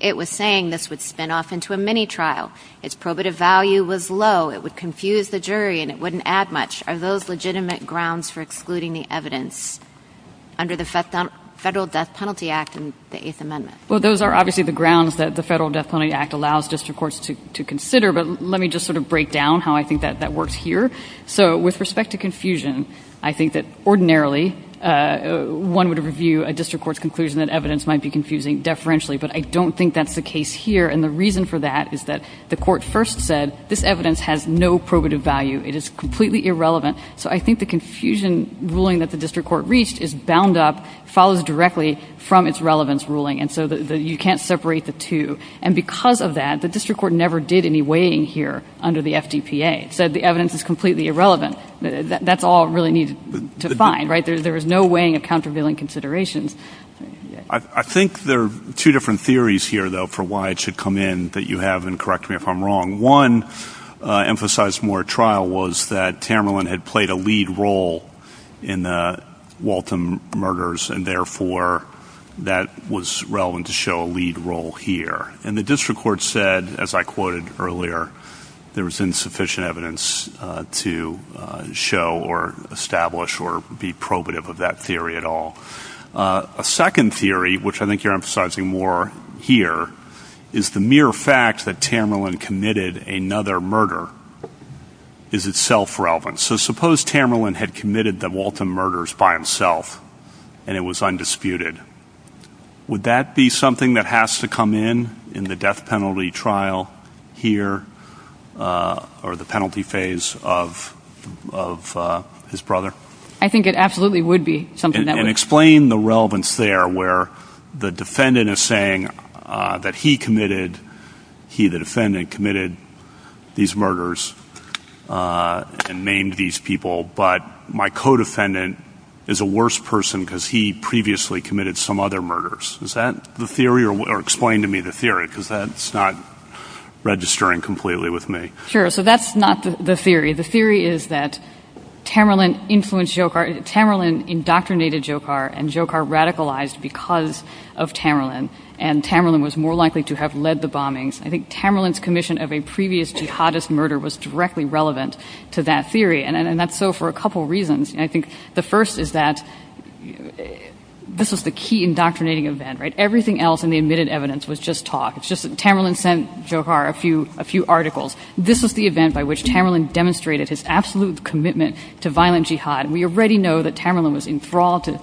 It was saying this would spin off into a mini trial its probative value was low it would confuse the jury and it wouldn't add much. Are those legitimate grounds for excluding the evidence under the federal death penalty act in the eighth amendment? Well those are obviously the grounds that the federal death penalty act allows district courts to consider but let me just sort of break down how I think that that works here. So, with respect to confusion I think that ordinarily one would review a district court's conclusion that evidence might be confusing deferentially but I don't think that's the case here and the reason for that is that the court first said this it is completely irrelevant so I think the confusion ruling that the district court reached is bound up follows directly from its relevance ruling and so that you can't separate the two and because of that the district court never did any weighing here under the fdpa said the evidence is completely irrelevant that's all really needed to find right there is no weighing of countervailing considerations. I think there are two different theories here though for why it should come in you have and correct me if I'm wrong one emphasized more trial was that Tamerlan had played a lead role in Walton murders and therefore that was relevant to show a lead role here and the district court said as I quoted earlier there was insufficient evidence to show or establish or be probative of that theory at all. A second theory which I think you're emphasizing more here is the mere fact that Tamerlan committed another murder is itself relevant so suppose Tamerlan had committed the Walton murders by himself and it was undisputed would that be something that has to come in in the death penalty trial here or the penalty phase of of his brother? I think it absolutely would be something. And explain the relevance there where the defendant is saying that he committed he the defendant committed these murders and named these people but my co-defendant is a worse person because he previously committed some other murders is that the theory or explain to me the theory because that's not registering completely with me. Sure so that's not the theory the theory is that Tamerlan influenced Jokar Tamerlan indoctrinated Jokar and Jokar radicalized because of Tamerlan and Tamerlan was more likely to have led the bombings. I think Tamerlan's commission of a previous jihadist murder was directly relevant to that theory and that's so for a couple reasons and I think the first is that this was the key indoctrinating event right everything else in the admitted evidence was just talk it's just Tamerlan sent Jokar a few a few articles this was the event by which Tamerlan demonstrated his absolute commitment to violent jihad and we already know that Tamerlan was enthralled to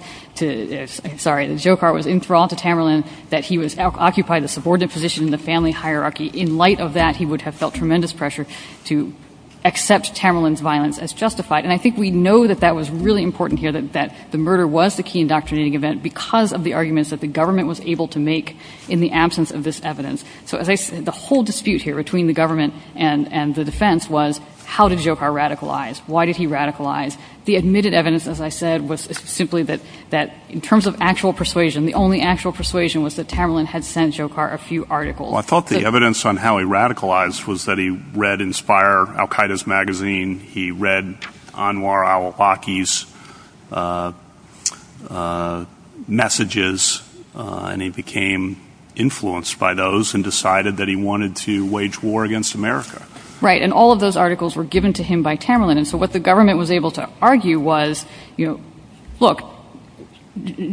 sorry Jokar was enthralled to Tamerlan that he was occupied the subordinate position in the family hierarchy in light of that he would have felt tremendous pressure to accept Tamerlan's violence as justified and I think we know that that was really important here that that the murder was the key indoctrinating event because of the arguments that the government was able to make in the absence of this evidence so as I said the whole dispute here between the defense was how did Jokar radicalize why did he radicalize the admitted evidence as I said was simply that that in terms of actual persuasion the only actual persuasion was that Tamerlan had sent Jokar a few articles I thought the evidence on how he radicalized was that he read inspire Al Qaeda's magazine he read Anwar al-Awlaki's messages and he became influenced by those and all of those articles were given to him by Tamerlan and so what the government was able to argue was you know look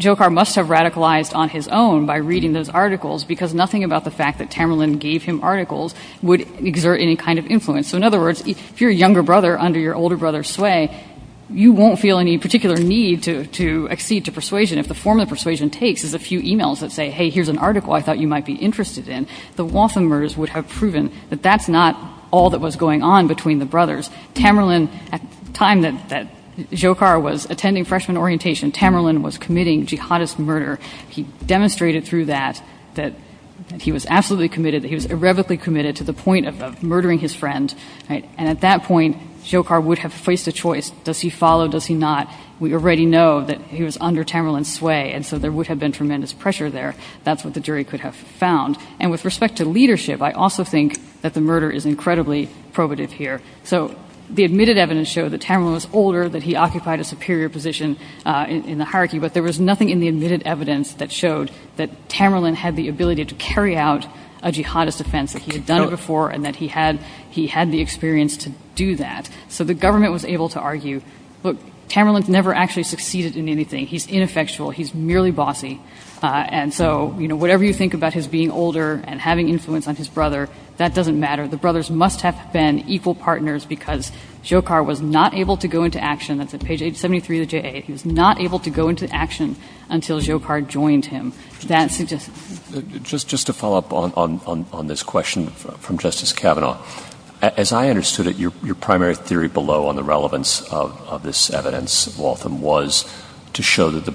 Jokar must have radicalized on his own by reading those articles because nothing about the fact that Tamerlan gave him articles would exert any kind of influence so in other words if you're a younger brother under your older brother's sway you won't feel any particular need to to accede to persuasion if the form of persuasion takes is a few emails that say hey here's an article I thought you might be interested in the Waffenmers would have proven that that's not all that was going on between the brothers Tamerlan at the time that that Jokar was attending freshman orientation Tamerlan was committing jihadist murder he demonstrated through that that he was absolutely committed that he was irrevocably committed to the point of murdering his friend right and at that point Jokar would have faced a choice does he follow does he not we already know that he was under Tamerlan's sway and so there would have been tremendous pressure there that's what the jury could have found and with respect to leadership I also think that the murder is incredibly probative here so the admitted evidence shows that Tamerlan was older that he occupied a superior position in the hierarchy but there was nothing in the admitted evidence that showed that Tamerlan had the ability to carry out a jihadist offense that he had done before and that he had he had the experience to do that so the government was able to argue look Tamerlan's never actually succeeded in anything he's ineffectual he's merely bossy and so you know whatever you think about his being older and having influence on his brother that doesn't matter the brothers must have been equal partners because Jokar was not able to go into action that's page 873 of the J.A. he was not able to go into action until Jokar joined him that's just just to follow up on on on this question from Justice Kavanaugh as I understood it your your primary theory below on the relevance of this evidence Waltham was to show that the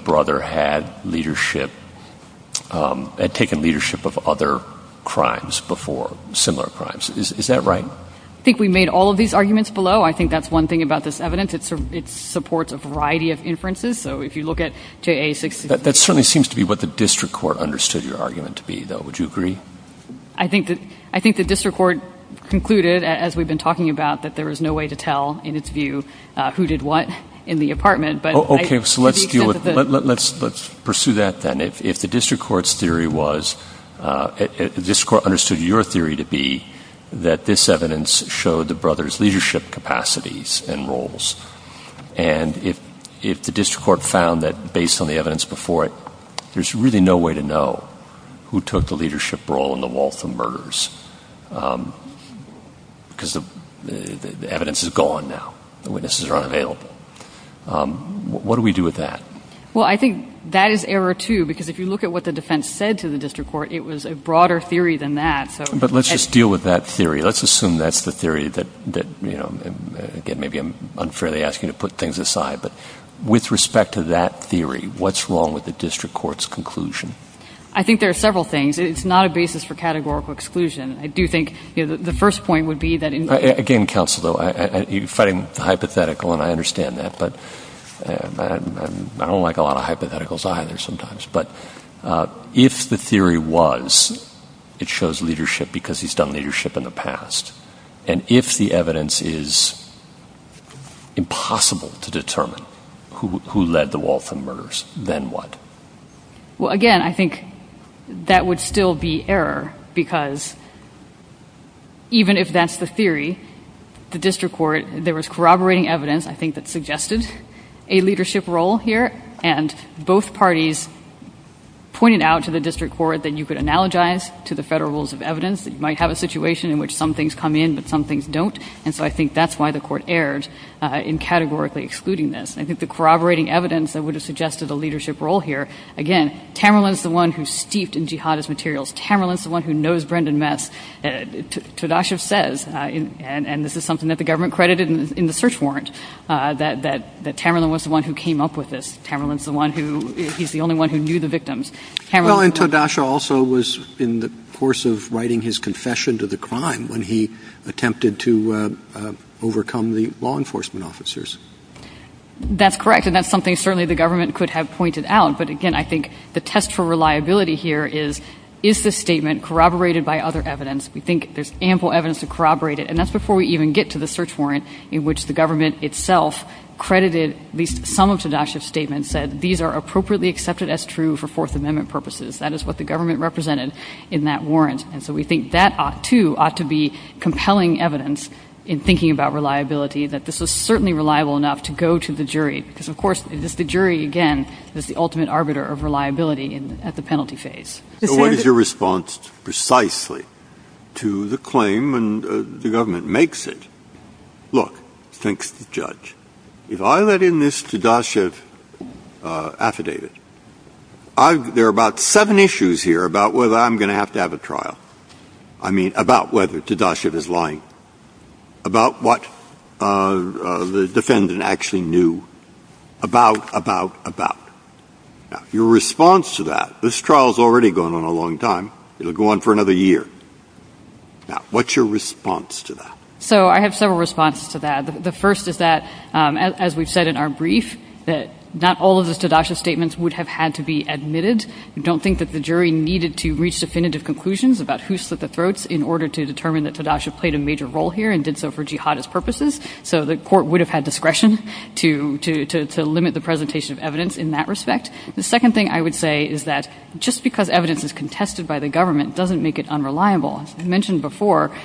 similar crimes is that right I think we made all of these arguments below I think that's one thing about this evidence it's it supports a variety of inferences so if you look at J.A. that certainly seems to be what the district court understood your argument to be though would you agree I think that I think the district court concluded as we've been talking about that there is no way to tell in its view who did what in the apartment but okay so let's deal with let's let's pursue that then if if the district court's theory was uh if the district court understood your theory to be that this evidence showed the brothers leadership capacities and roles and if if the district court found that based on the evidence before it there's really no way to know who took the leadership role in the Waltham murders um because the the evidence is gone now the witnesses are available um what do we do with that well I think that is error too because if you look at what the defense said to the district court it was a broader theory than that so but let's just deal with that theory let's assume that's the theory that that you know again maybe I'm unfairly asking to put things aside but with respect to that theory what's wrong with the district court's conclusion I think there are several things it's not a basis for categorical exclusion I do think the first point would be that again counsel though I you're fighting the hypothetical and I understand that but I don't like a lot of hypotheticals either sometimes but if the theory was it shows leadership because he's done leadership in the past and if the evidence is impossible to determine who who led the Waltham murders then what well again I think that would still be error because even if that's the theory the district court there was corroborating evidence I think that suggested a leadership role here and both parties pointed out to the district court that you could analogize to the federal rules of evidence you might have a situation in which some things come in but some things don't and so I think that's why the court erred uh in categorically excluding this I think the corroborating evidence that would have suggested a leadership role here again Tamerlan's the one who steeped in jihadist materials Tamerlan's the one who knows Brendan Metz and Tadasha says and and this is something that the government credited in the search warrants uh that that that Tamerlan was the one who came up with this Tamerlan's the one who he's the only one who knew the victims Tamerlan and Tadasha also was in the course of writing his confession to the crime when he attempted to uh overcome the law enforcement officers that's correct and that's something certainly the government could have pointed out but again I think the test for reliability here is is this statement corroborated by other evidence we think there's ample evidence to corroborate it and that's before we even get to the search warrant in which the government itself credited at least some of Tadasha's statements said these are appropriately accepted as true for fourth amendment purposes that is what the government represented in that warrant and so we think that ought to ought to be compelling evidence in thinking about reliability that this is certainly reliable enough to go to the jury because of course the jury again is the ultimate arbiter of reliability in at the penalty phase what is your response precisely to the claim and the government makes it look thanks judge if I let in this Tadasha uh affidavit I there are about seven issues here about whether I'm lying about what uh the defendant actually knew about about about your response to that this trial has already gone on a long time it'll go on for another year now what's your response to that so I have several responses to that the first is that um as we've said in our brief that not all of the Tadasha statements would have had to be admitted don't think that the jury needed to major role here and did so for jihadist purposes so the court would have had discretion to to to limit the presentation of evidence in that respect the second thing I would say is that just because evidence is contested by the government doesn't make it unreliable as we mentioned before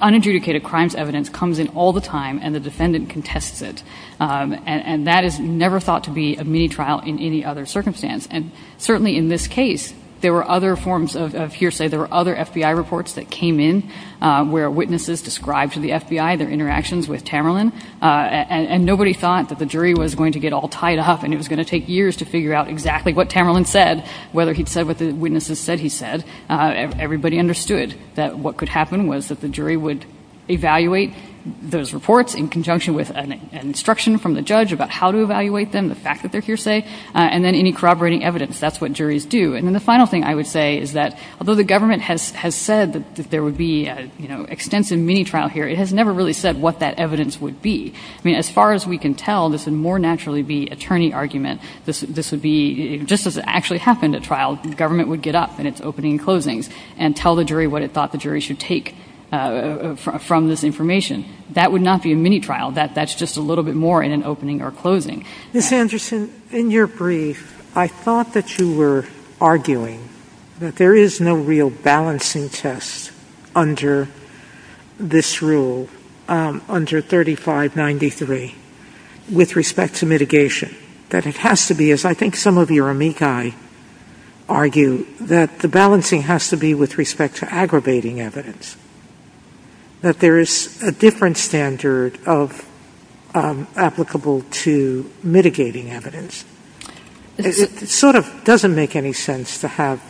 unadjudicated crimes evidence comes in all the time and the defendant contested and that is never thought to be a mini trial in any other circumstance and certainly in this case there were other forms of hearsay there were other FBI reports that came in where witnesses described to the FBI their interactions with Tamerlan and nobody thought that the jury was going to get all tied up and it was going to take years to figure out exactly what Tamerlan said whether he said what the witnesses said he said everybody understood that what could happen was that the jury would evaluate those reports in conjunction with an instruction from the judge about how to evaluate them the fact that they're hearsay and then any corroborating evidence that's what juries do and then the final thing I would say is that although the government has has said that there would be a you know extensive mini trial here it has never really said what that evidence would be I mean as far as we can tell this would more naturally be attorney argument this this would be just as it actually happened at trial the government would get up in its opening closings and tell the jury what it thought the jury should take uh from this information that would not be a mini trial that that's just a little bit more in an opening or closing Ms. Anderson in your brief I thought that you were arguing that there is no real balancing test under this rule um under 3593 with respect to mitigation that it has to be as I think some of your amici argue that the balancing has to be with respect to aggravating evidence that there is a different standard of applicable to mitigating evidence it sort of doesn't make any sense to have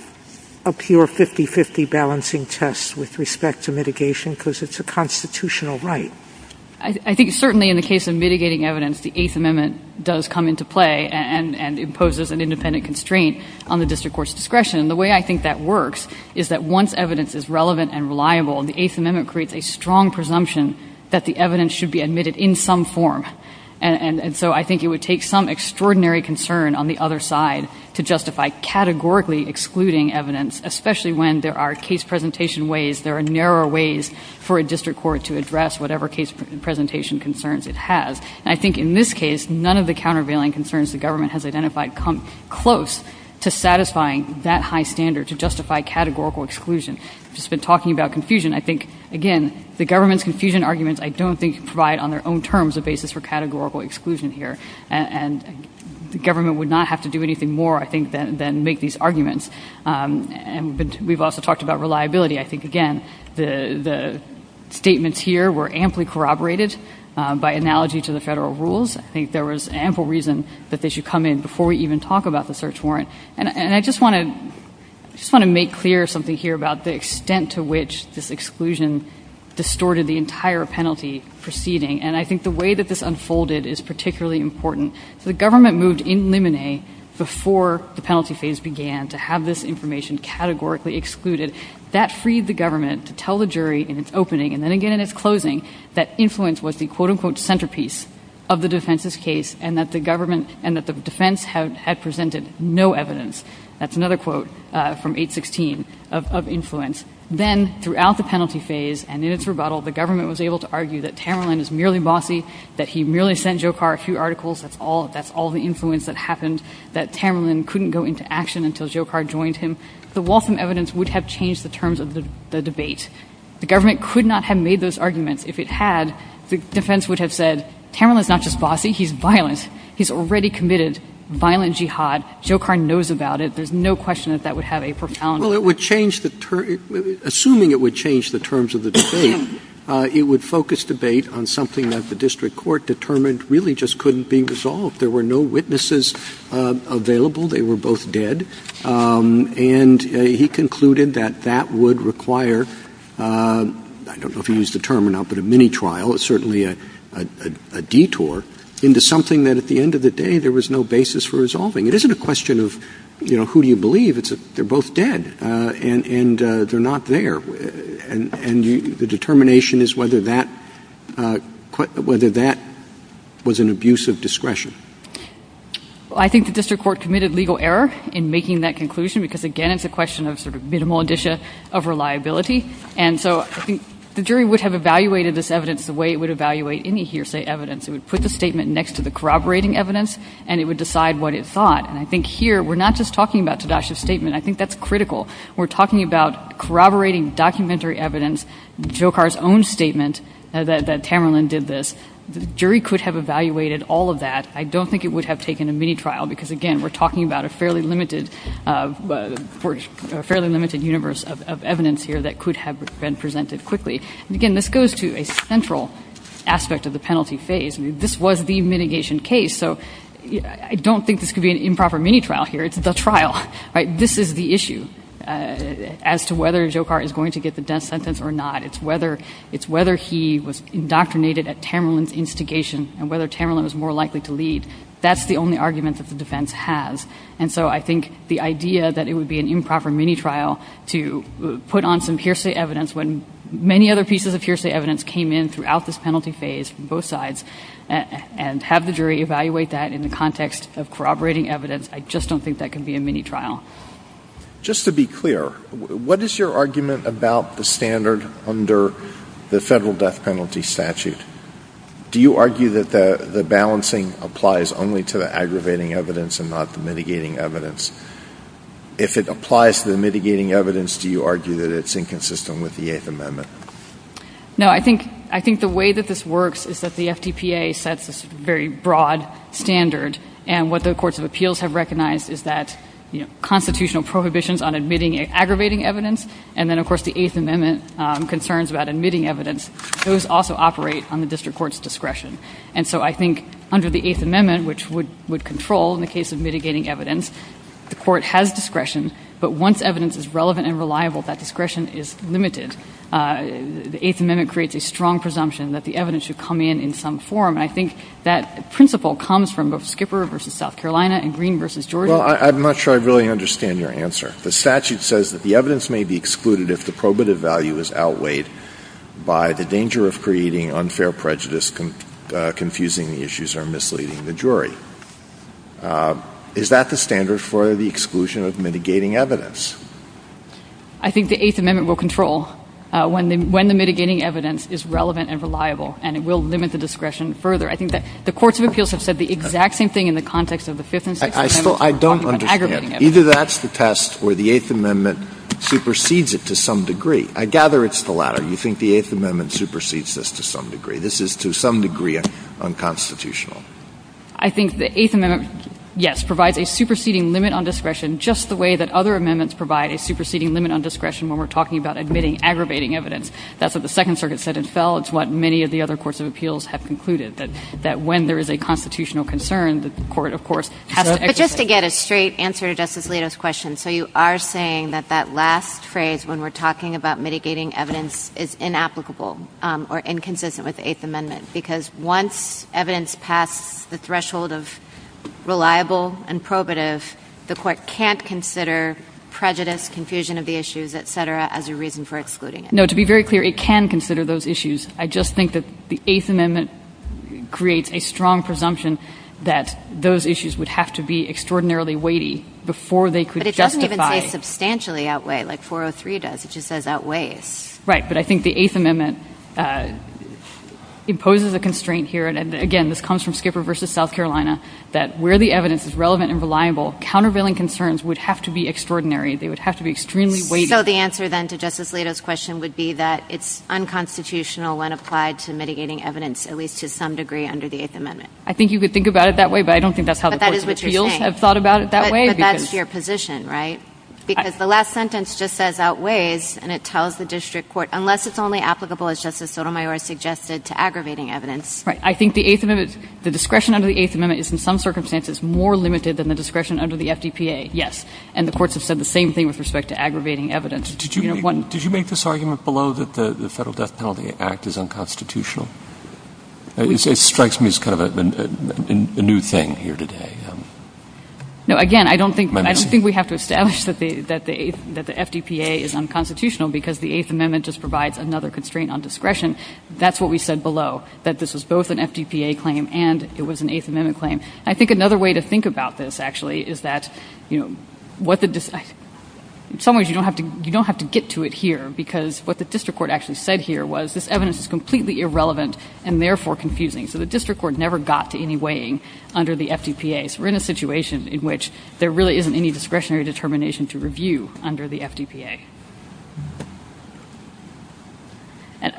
a pure 50 50 balancing test with respect to mitigation because it's a constitutional right I think certainly in the case of mitigating evidence the eighth amendment does come into play and and imposes an independent constraint on the district court's discretion the way I think that works is that once evidence is relevant and reliable and the eighth amendment creates a strong presumption that the evidence should be admitted in some form and and so I think it would take some extraordinary concern on the other side to justify categorically excluding evidence especially when there are case presentation ways there are narrower ways for a district court to address whatever case presentation concerns it has I think in this case none of the countervailing concerns the government has come close to satisfying that high standard to justify categorical exclusion just been talking about confusion I think again the government's confusion arguments I don't think provide on their own terms a basis for categorical exclusion here and the government would not have to do anything more I think than than make these arguments um and we've also talked about reliability I think again the the statements here were amply corroborated by analogy to the federal rules I think there was ample reason that they should come in before we even talk about the search warrant and I just want to just want to make clear something here about the extent to which this exclusion distorted the entire penalty proceeding and I think the way that this unfolded is particularly important the government moved in limine before the penalty phase began to have this information categorically excluded that freed the government to tell the jury in its opening and then again in its closing that influence was the quote-unquote centerpiece of the defense's case and that the government and that the defense had presented no evidence that's another quote from 816 of influence then throughout the penalty phase and in its rebuttal the government was able to argue that Tamerlan is merely bossy that he merely sent Jokar a few articles that's all that's all the influence that happened that Tamerlan couldn't go into action until Jokar joined him the Waltham evidence would have changed the terms of the debate the government could not have made those arguments if it had the defense would have said Tamerlan is not just bossy he's violent he's already committed violent jihad Jokar knows about it there's no question that that would have a profound well it would change the term assuming it would change the terms of the debate it would focus debate on something that the district court determined really just couldn't be resolved there were no witnesses uh available they were both dead um and he concluded that that require uh i don't know if you use the term or not but a mini trial it's certainly a a detour into something that at the end of the day there was no basis for resolving it isn't a question of you know who do you believe it's a they're both dead uh and and uh they're not there and and you the determination is whether that uh whether that was an abuse of discretion well i think the district court committed legal error in making that conclusion because again it's a question of minimal indicia of reliability and so the jury would have evaluated this evidence the way it would evaluate any hearsay evidence it would put the statement next to the corroborating evidence and it would decide what it thought and i think here we're not just talking about sadash's statement i think that's critical we're talking about corroborating documentary evidence jokar's own statement that tamerlan did this the jury could have evaluated all of that i don't think it would have taken a mini trial because again we're talking about a fairly limited uh for a fairly limited universe of evidence here that could have been presented quickly again this goes to a central aspect of the penalty phase this was the mitigation case so i don't think this could be an improper mini trial here it's the trial right this is the issue as to whether jokar is going to get the death sentence or not it's whether it's whether he was indoctrinated at tamerlan's instigation and whether tamerlan was more likely to leave that's only argument that the defense has and so i think the idea that it would be an improper mini trial to put on some hearsay evidence when many other pieces of hearsay evidence came in throughout this penalty phase on both sides and have the jury evaluate that in the context of corroborating evidence i just don't think that can be a mini trial just to be clear what is your argument about the standard under the federal death penalty statute do you argue that the the balancing applies only to the aggravating evidence and not the mitigating evidence if it applies to the mitigating evidence do you argue that it's inconsistent with the eighth amendment no i think i think the way that this works is that the fdpa sets this very broad standard and what the courts of appeals have recognized is that you know constitutional prohibitions on admitting aggravating evidence and then of course the eighth amendment concerns about admitting evidence those also operate on the eighth amendment which would would control in the case of mitigating evidence the court has discretion but once evidence is relevant and reliable that discretion is limited uh the eighth amendment creates a strong presumption that the evidence should come in in some form i think that principle comes from both skipper versus south carolina and green versus well i'm not sure i really understand your answer the statute says that the evidence may be excluded if the probative value is outweighed by the danger of creating unfair prejudice confusing issues are misleading the jury uh is that the standard for the exclusion of mitigating evidence i think the eighth amendment will control when when the mitigating evidence is relevant and reliable and it will limit the discretion further i think that the courts of appeals have said the exact same thing in the context of the fifth i still i don't understand either that's the test where the eighth amendment supersedes it to some degree i gather it's the latter you think the eighth amendment supersedes this to some degree this is to some degree unconstitutional i think the eighth amendment yes provides a superseding limit on discretion just the way that other amendments provide a superseding limit on discretion when we're talking about admitting aggravating evidence that's what the second circuit said itself it's what many of the other courts of appeals have concluded that that when there is a constitutional concern the court of course just to get a straight answer justice latest question so you are saying that that last phrase when we're talking about mitigating evidence is inapplicable um or inconsistent with the eighth amendment because once evidence passed the threshold of reliable and probative the court can't consider prejudice confusion of the issues etc as a reason for excluding it no to be very clear it can consider those issues i just think that the eighth amendment creates a strong presumption that those issues would have to be extraordinarily weighty before they could justify substantially outweigh like 403 does it just says outweigh right but i think the eighth amendment uh imposes a constraint here and again this comes from skipper versus south carolina that where the evidence is relevant and reliable countervailing concerns would have to be extraordinary they would have to be extremely weighty so the answer then to justice latest question would be that it's unconstitutional when applied to mitigating evidence at least to some degree under the eighth amendment i think you could think about it that way but i don't think that's how the people have thought about it that way but that's your position right because the last sentence just says outweighs and it tells the district court unless it's only applicable as justice sotomayor suggested to aggravating evidence right i think the eighth amendment the discretion under the eighth amendment is in some circumstances more limited than the discretion under the fdpa yes and the courts have said the same thing with respect to aggravating evidence did you want did you make this argument below that the the federal death penalty act is unconstitutional it strikes me as kind of a new thing here today um no again i don't think i just we have to establish that the that the that the fdpa is unconstitutional because the eighth amendment just provides another constraint on discretion that's what we said below that this was both an fdpa claim and it was an eighth amendment claim i think another way to think about this actually is that you know what did this in some ways you don't have to you don't have to get to it here because what the district court actually said here was this evidence is completely irrelevant and therefore confusing so the district court never got to any weighing under the fdpa so we're in a situation in which there really isn't any discretionary determination to review under the fdpa and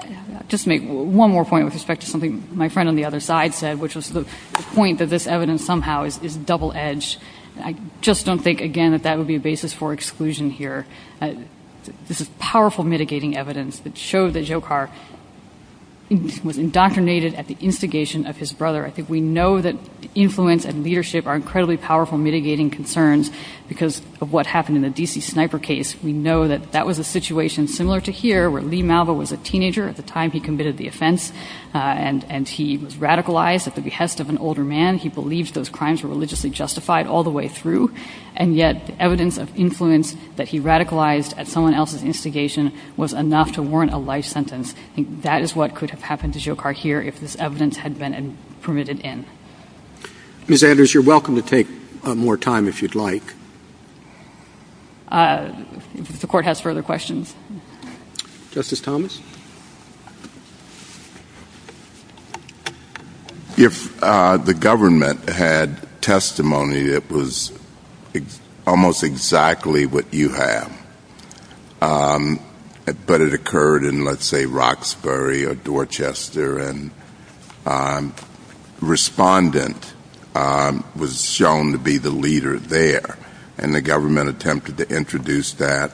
just make one more point with respect to something my friend on the other side said which was the point that this evidence somehow is double-edged i just don't think again that that would be a basis for exclusion here this is powerful mitigating evidence that shows that jokar was indoctrinated at the instigation of his brother i think we know that influence and leadership are incredibly powerful mitigating concerns because of what happened in the dc sniper case we know that that was a situation similar to here where lee malvo was a teenager at the time he committed the offense and and he was radicalized at the behest of an older man he believed those crimes were religiously justified all the way through and yet the evidence of influence that he radicalized at someone else's instigation was enough to warrant a life sentence i think that is what could have happened to jokar here if this evidence had been permitted in miss andrews you're welcome to take more time if you'd like uh the court has further questions justice thomas if uh the government had testimony it was almost exactly what you have um but it occurred in let's say roxbury or dorchester and um respondent um was shown to be the leader there and the government attempted to introduce that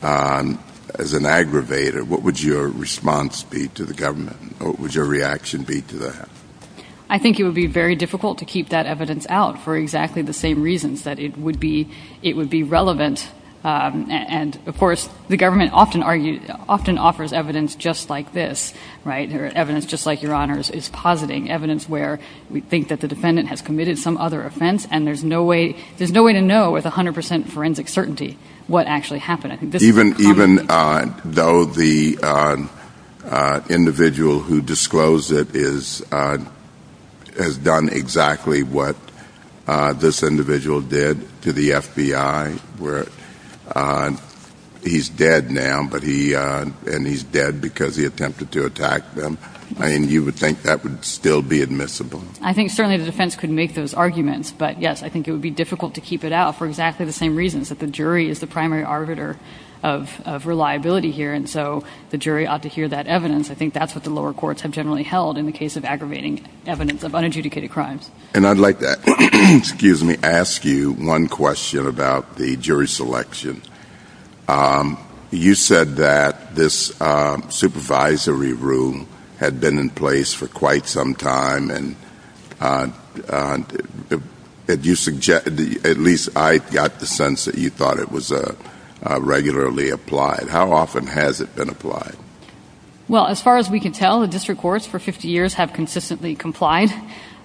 um as an aggravator what would your response be to the government what would your reaction be to that i think it would be very difficult to keep that evidence out for exactly the same reasons that it would be it would be um and of course the government often argued often offers evidence just like this right evidence just like your honors is positing evidence where we think that the defendant has committed some other offense and there's no way there's no way to know with 100 forensic certainty what actually happened i think even even uh though the uh uh individual who disclosed it is uh has done exactly what uh this individual did to the fbi where uh he's dead now but he uh and he's dead because he attempted to attack them and you would think that would still be admissible i think certainly the defense could make those arguments but yes i think it would be difficult to keep it out for exactly the same reasons that the jury is the primary arbiter of of reliability here and so the jury ought to hear that evidence i think that's what the lower courts have generally held in the case of aggravating evidence of unadjudicated crimes and i'd like that excuse me ask you one question about the jury selection um you said that this uh supervisory room had been in place for quite some time and uh did you suggest at least i got the sense that you thought it was a regularly applied how often has it been applied well as far as we can tell the courts for 50 years have consistently complied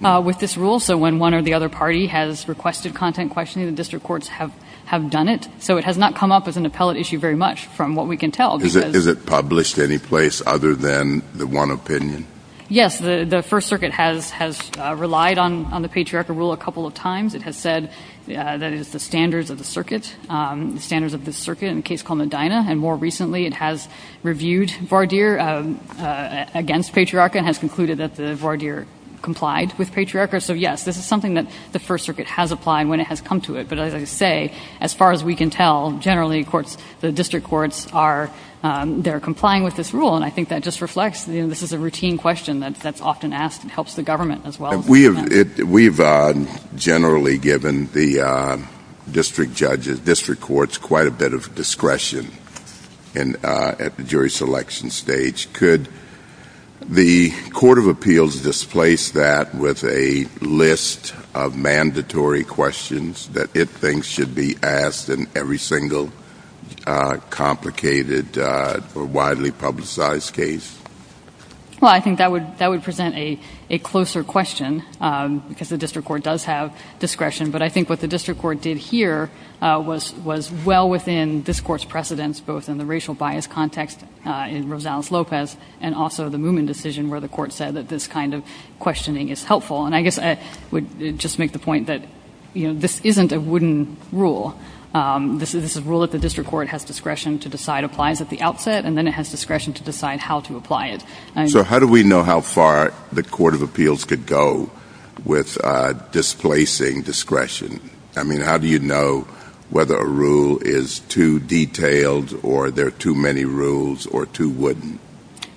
uh with this rule so when one or the other party has requested content questioning the district courts have have done it so it has not come up with an appellate issue very much from what we can tell is it published any place other than the one opinion yes the the first circuit has has relied on on the patriarchal rule a couple of times it has said that is the standards of the circuit um standards of the circuit in a case and more recently it has reviewed vardir uh against patriarchy and has concluded that the vardir complied with patriarchy so yes this is something that the first circuit has applied when it has come to it but as i say as far as we can tell generally of course the district courts are um they're complying with this rule and i think that just reflects and this is a routine question that's often asked and helps the government as well we have it we've uh generally given the district judges district courts quite a bit of discretion and uh at the jury selection stage could the court of appeals displace that with a list of mandatory questions that it thinks should be asked in every single uh complicated uh or widely publicized case well i think that would that would present a a closer question um because the district court does have discretion but i think what the district court did here uh was was well within this court's precedents both in the racial bias context uh in rosales lopez and also the moomin decision where the court said that this kind of questioning is helpful and i guess i would just make the point that you know this isn't a wooden rule um this is a rule that the district court has discretion to decide applies at the outset and then it has discretion to decide how to apply it so how do we know how far the court of how do you know whether a rule is too detailed or there are too many rules or too wooden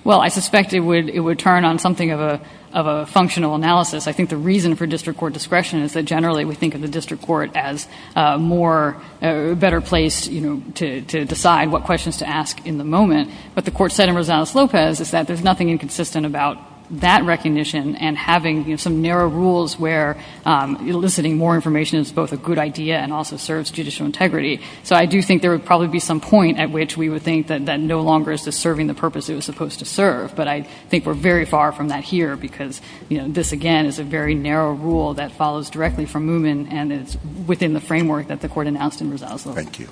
well i suspect it would it would turn on something of a of a functional analysis i think the reason for district court discretion is that generally we think of the district court as a more better place you know to to decide what questions to ask in the moment but the court said in rosales lopez is that there's nothing inconsistent about that recognition and having some narrow rules where um eliciting more information is both a good idea and also serves judicial integrity so i do think there would probably be some point at which we would think that that no longer is the serving the purpose it was supposed to serve but i think we're very far from that here because you know this again is a very narrow rule that follows directly from moomin and is within the framework that the court announced in rosales lopez thank you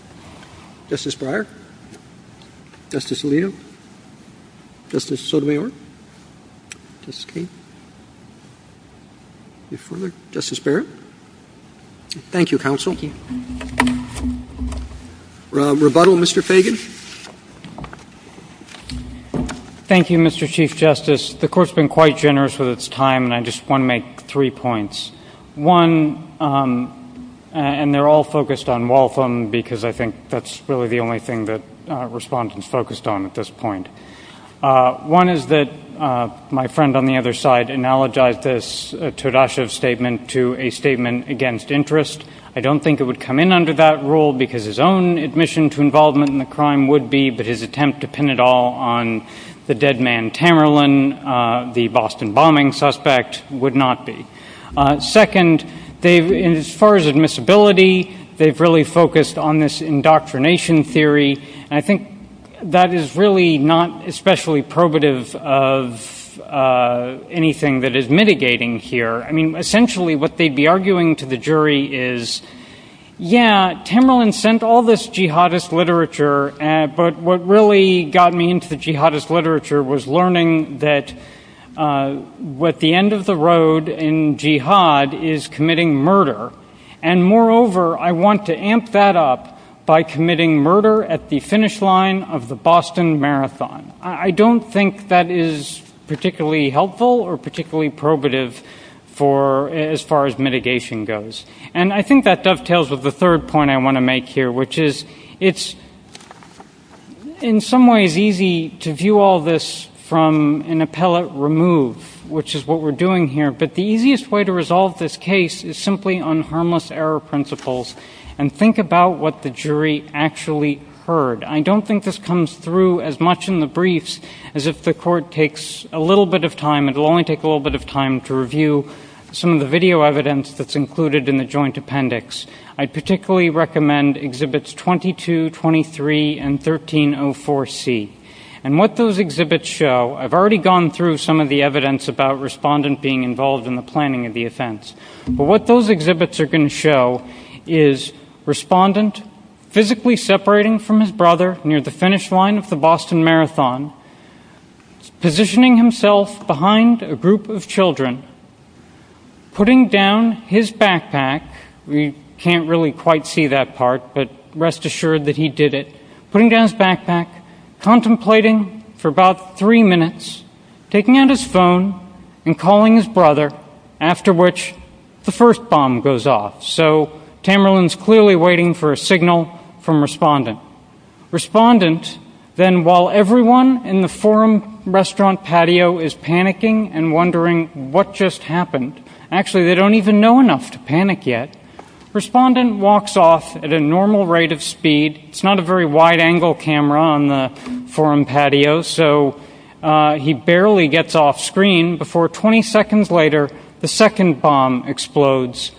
justice breyer justice before the justice barrett thank you counsel rebuttal mr fagan thank you mr chief justice the court's been quite generous with its time and i just want to make three points one um and they're all focused on waltham because i think that's really the only thing that uh respondents focused on at this point uh one is that uh my friend on the other side analogized this todoshev statement to a statement against interest i don't think it would come in under that rule because his own admission to involvement in the crime would be but his attempt to pin it all on the dead man tamerlan uh the boston bombing suspect would not be uh second they've in as far as admissibility they've really focused on this indoctrination theory and i think that is really not especially probative of uh anything that is mitigating here i mean essentially what they'd be arguing to the jury is yeah tamerlan sent all this jihadist literature and but what really got me into jihadist literature was learning that uh what the end of the road in jihad is committing murder and moreover i want to amp that up by committing murder at the finish line of the boston marathon i don't think that is particularly helpful or particularly probative for as far as mitigation goes and i think that dovetails with the third point i want to make here which is it's in some ways easy to view all this from an appellate remove which is what we're doing here but the easiest way to resolve this case is simply on actually heard i don't think this comes through as much in the briefs as if the court takes a little bit of time it'll only take a little bit of time to review some of the video evidence that's included in the joint appendix i particularly recommend exhibits 22 23 and 1304 c and what those exhibits show i've already gone through some of the evidence about respondent being involved in the planning of the offense but what those exhibits are going to show is respondent physically separating from his brother near the finish line of the boston marathon positioning himself behind a group of children putting down his backpack we can't really quite see that part but rest assured that he did it putting down his backpack contemplating for about three minutes taking out his phone and calling his brother after which the first bomb goes off so tamerlan's clearly waiting for a signal from respondent respondent then while everyone in the forum restaurant patio is panicking and wondering what just happened actually they don't even know enough to panic yet respondent walks off at a normal rate of speed it's not a very wide angle camera on the screen before 20 seconds later the second bomb explodes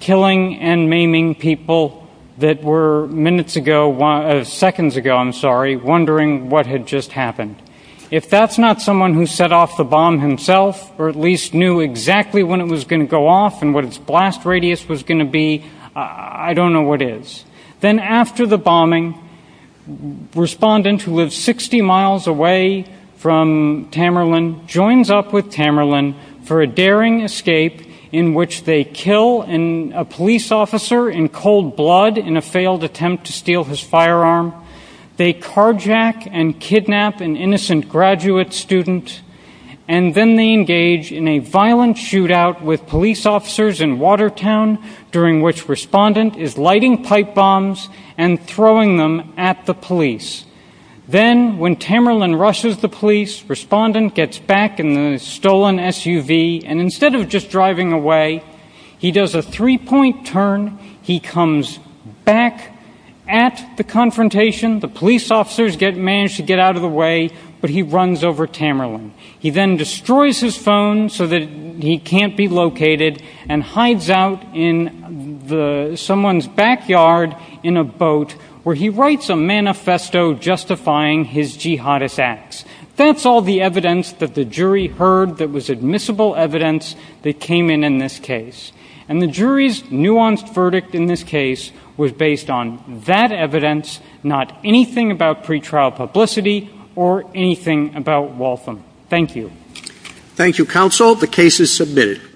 killing and maiming people that were minutes ago one seconds ago i'm sorry wondering what had just happened if that's not someone who set off the bomb himself or at least knew exactly when it was going to go off and what its blast radius was going to be i don't know what is then after the bombing respondent who lives 60 miles away from tamerlan joins up with tamerlan for a daring escape in which they kill in a police officer in cold blood in a failed attempt to steal his firearm they carjack and kidnap an innocent graduate student and then they engage in a violent shootout with police officers in watertown during which respondent is lighting pipe bombs and throwing them at the police then when tamerlan rushes the police respondent gets back in the stolen suv and instead of just driving away he does a three-point turn he comes back at the confrontation the police officers get managed to get out of the way but he runs over tamerlan he then destroys his phone so that he can't be located and hides out in the someone's backyard in a boat where he writes a manifesto justifying his jihadist acts that's all the evidence that the jury heard that was admissible evidence that came in in this case and the jury's nuanced verdict in this case was based on that evidence not anything about you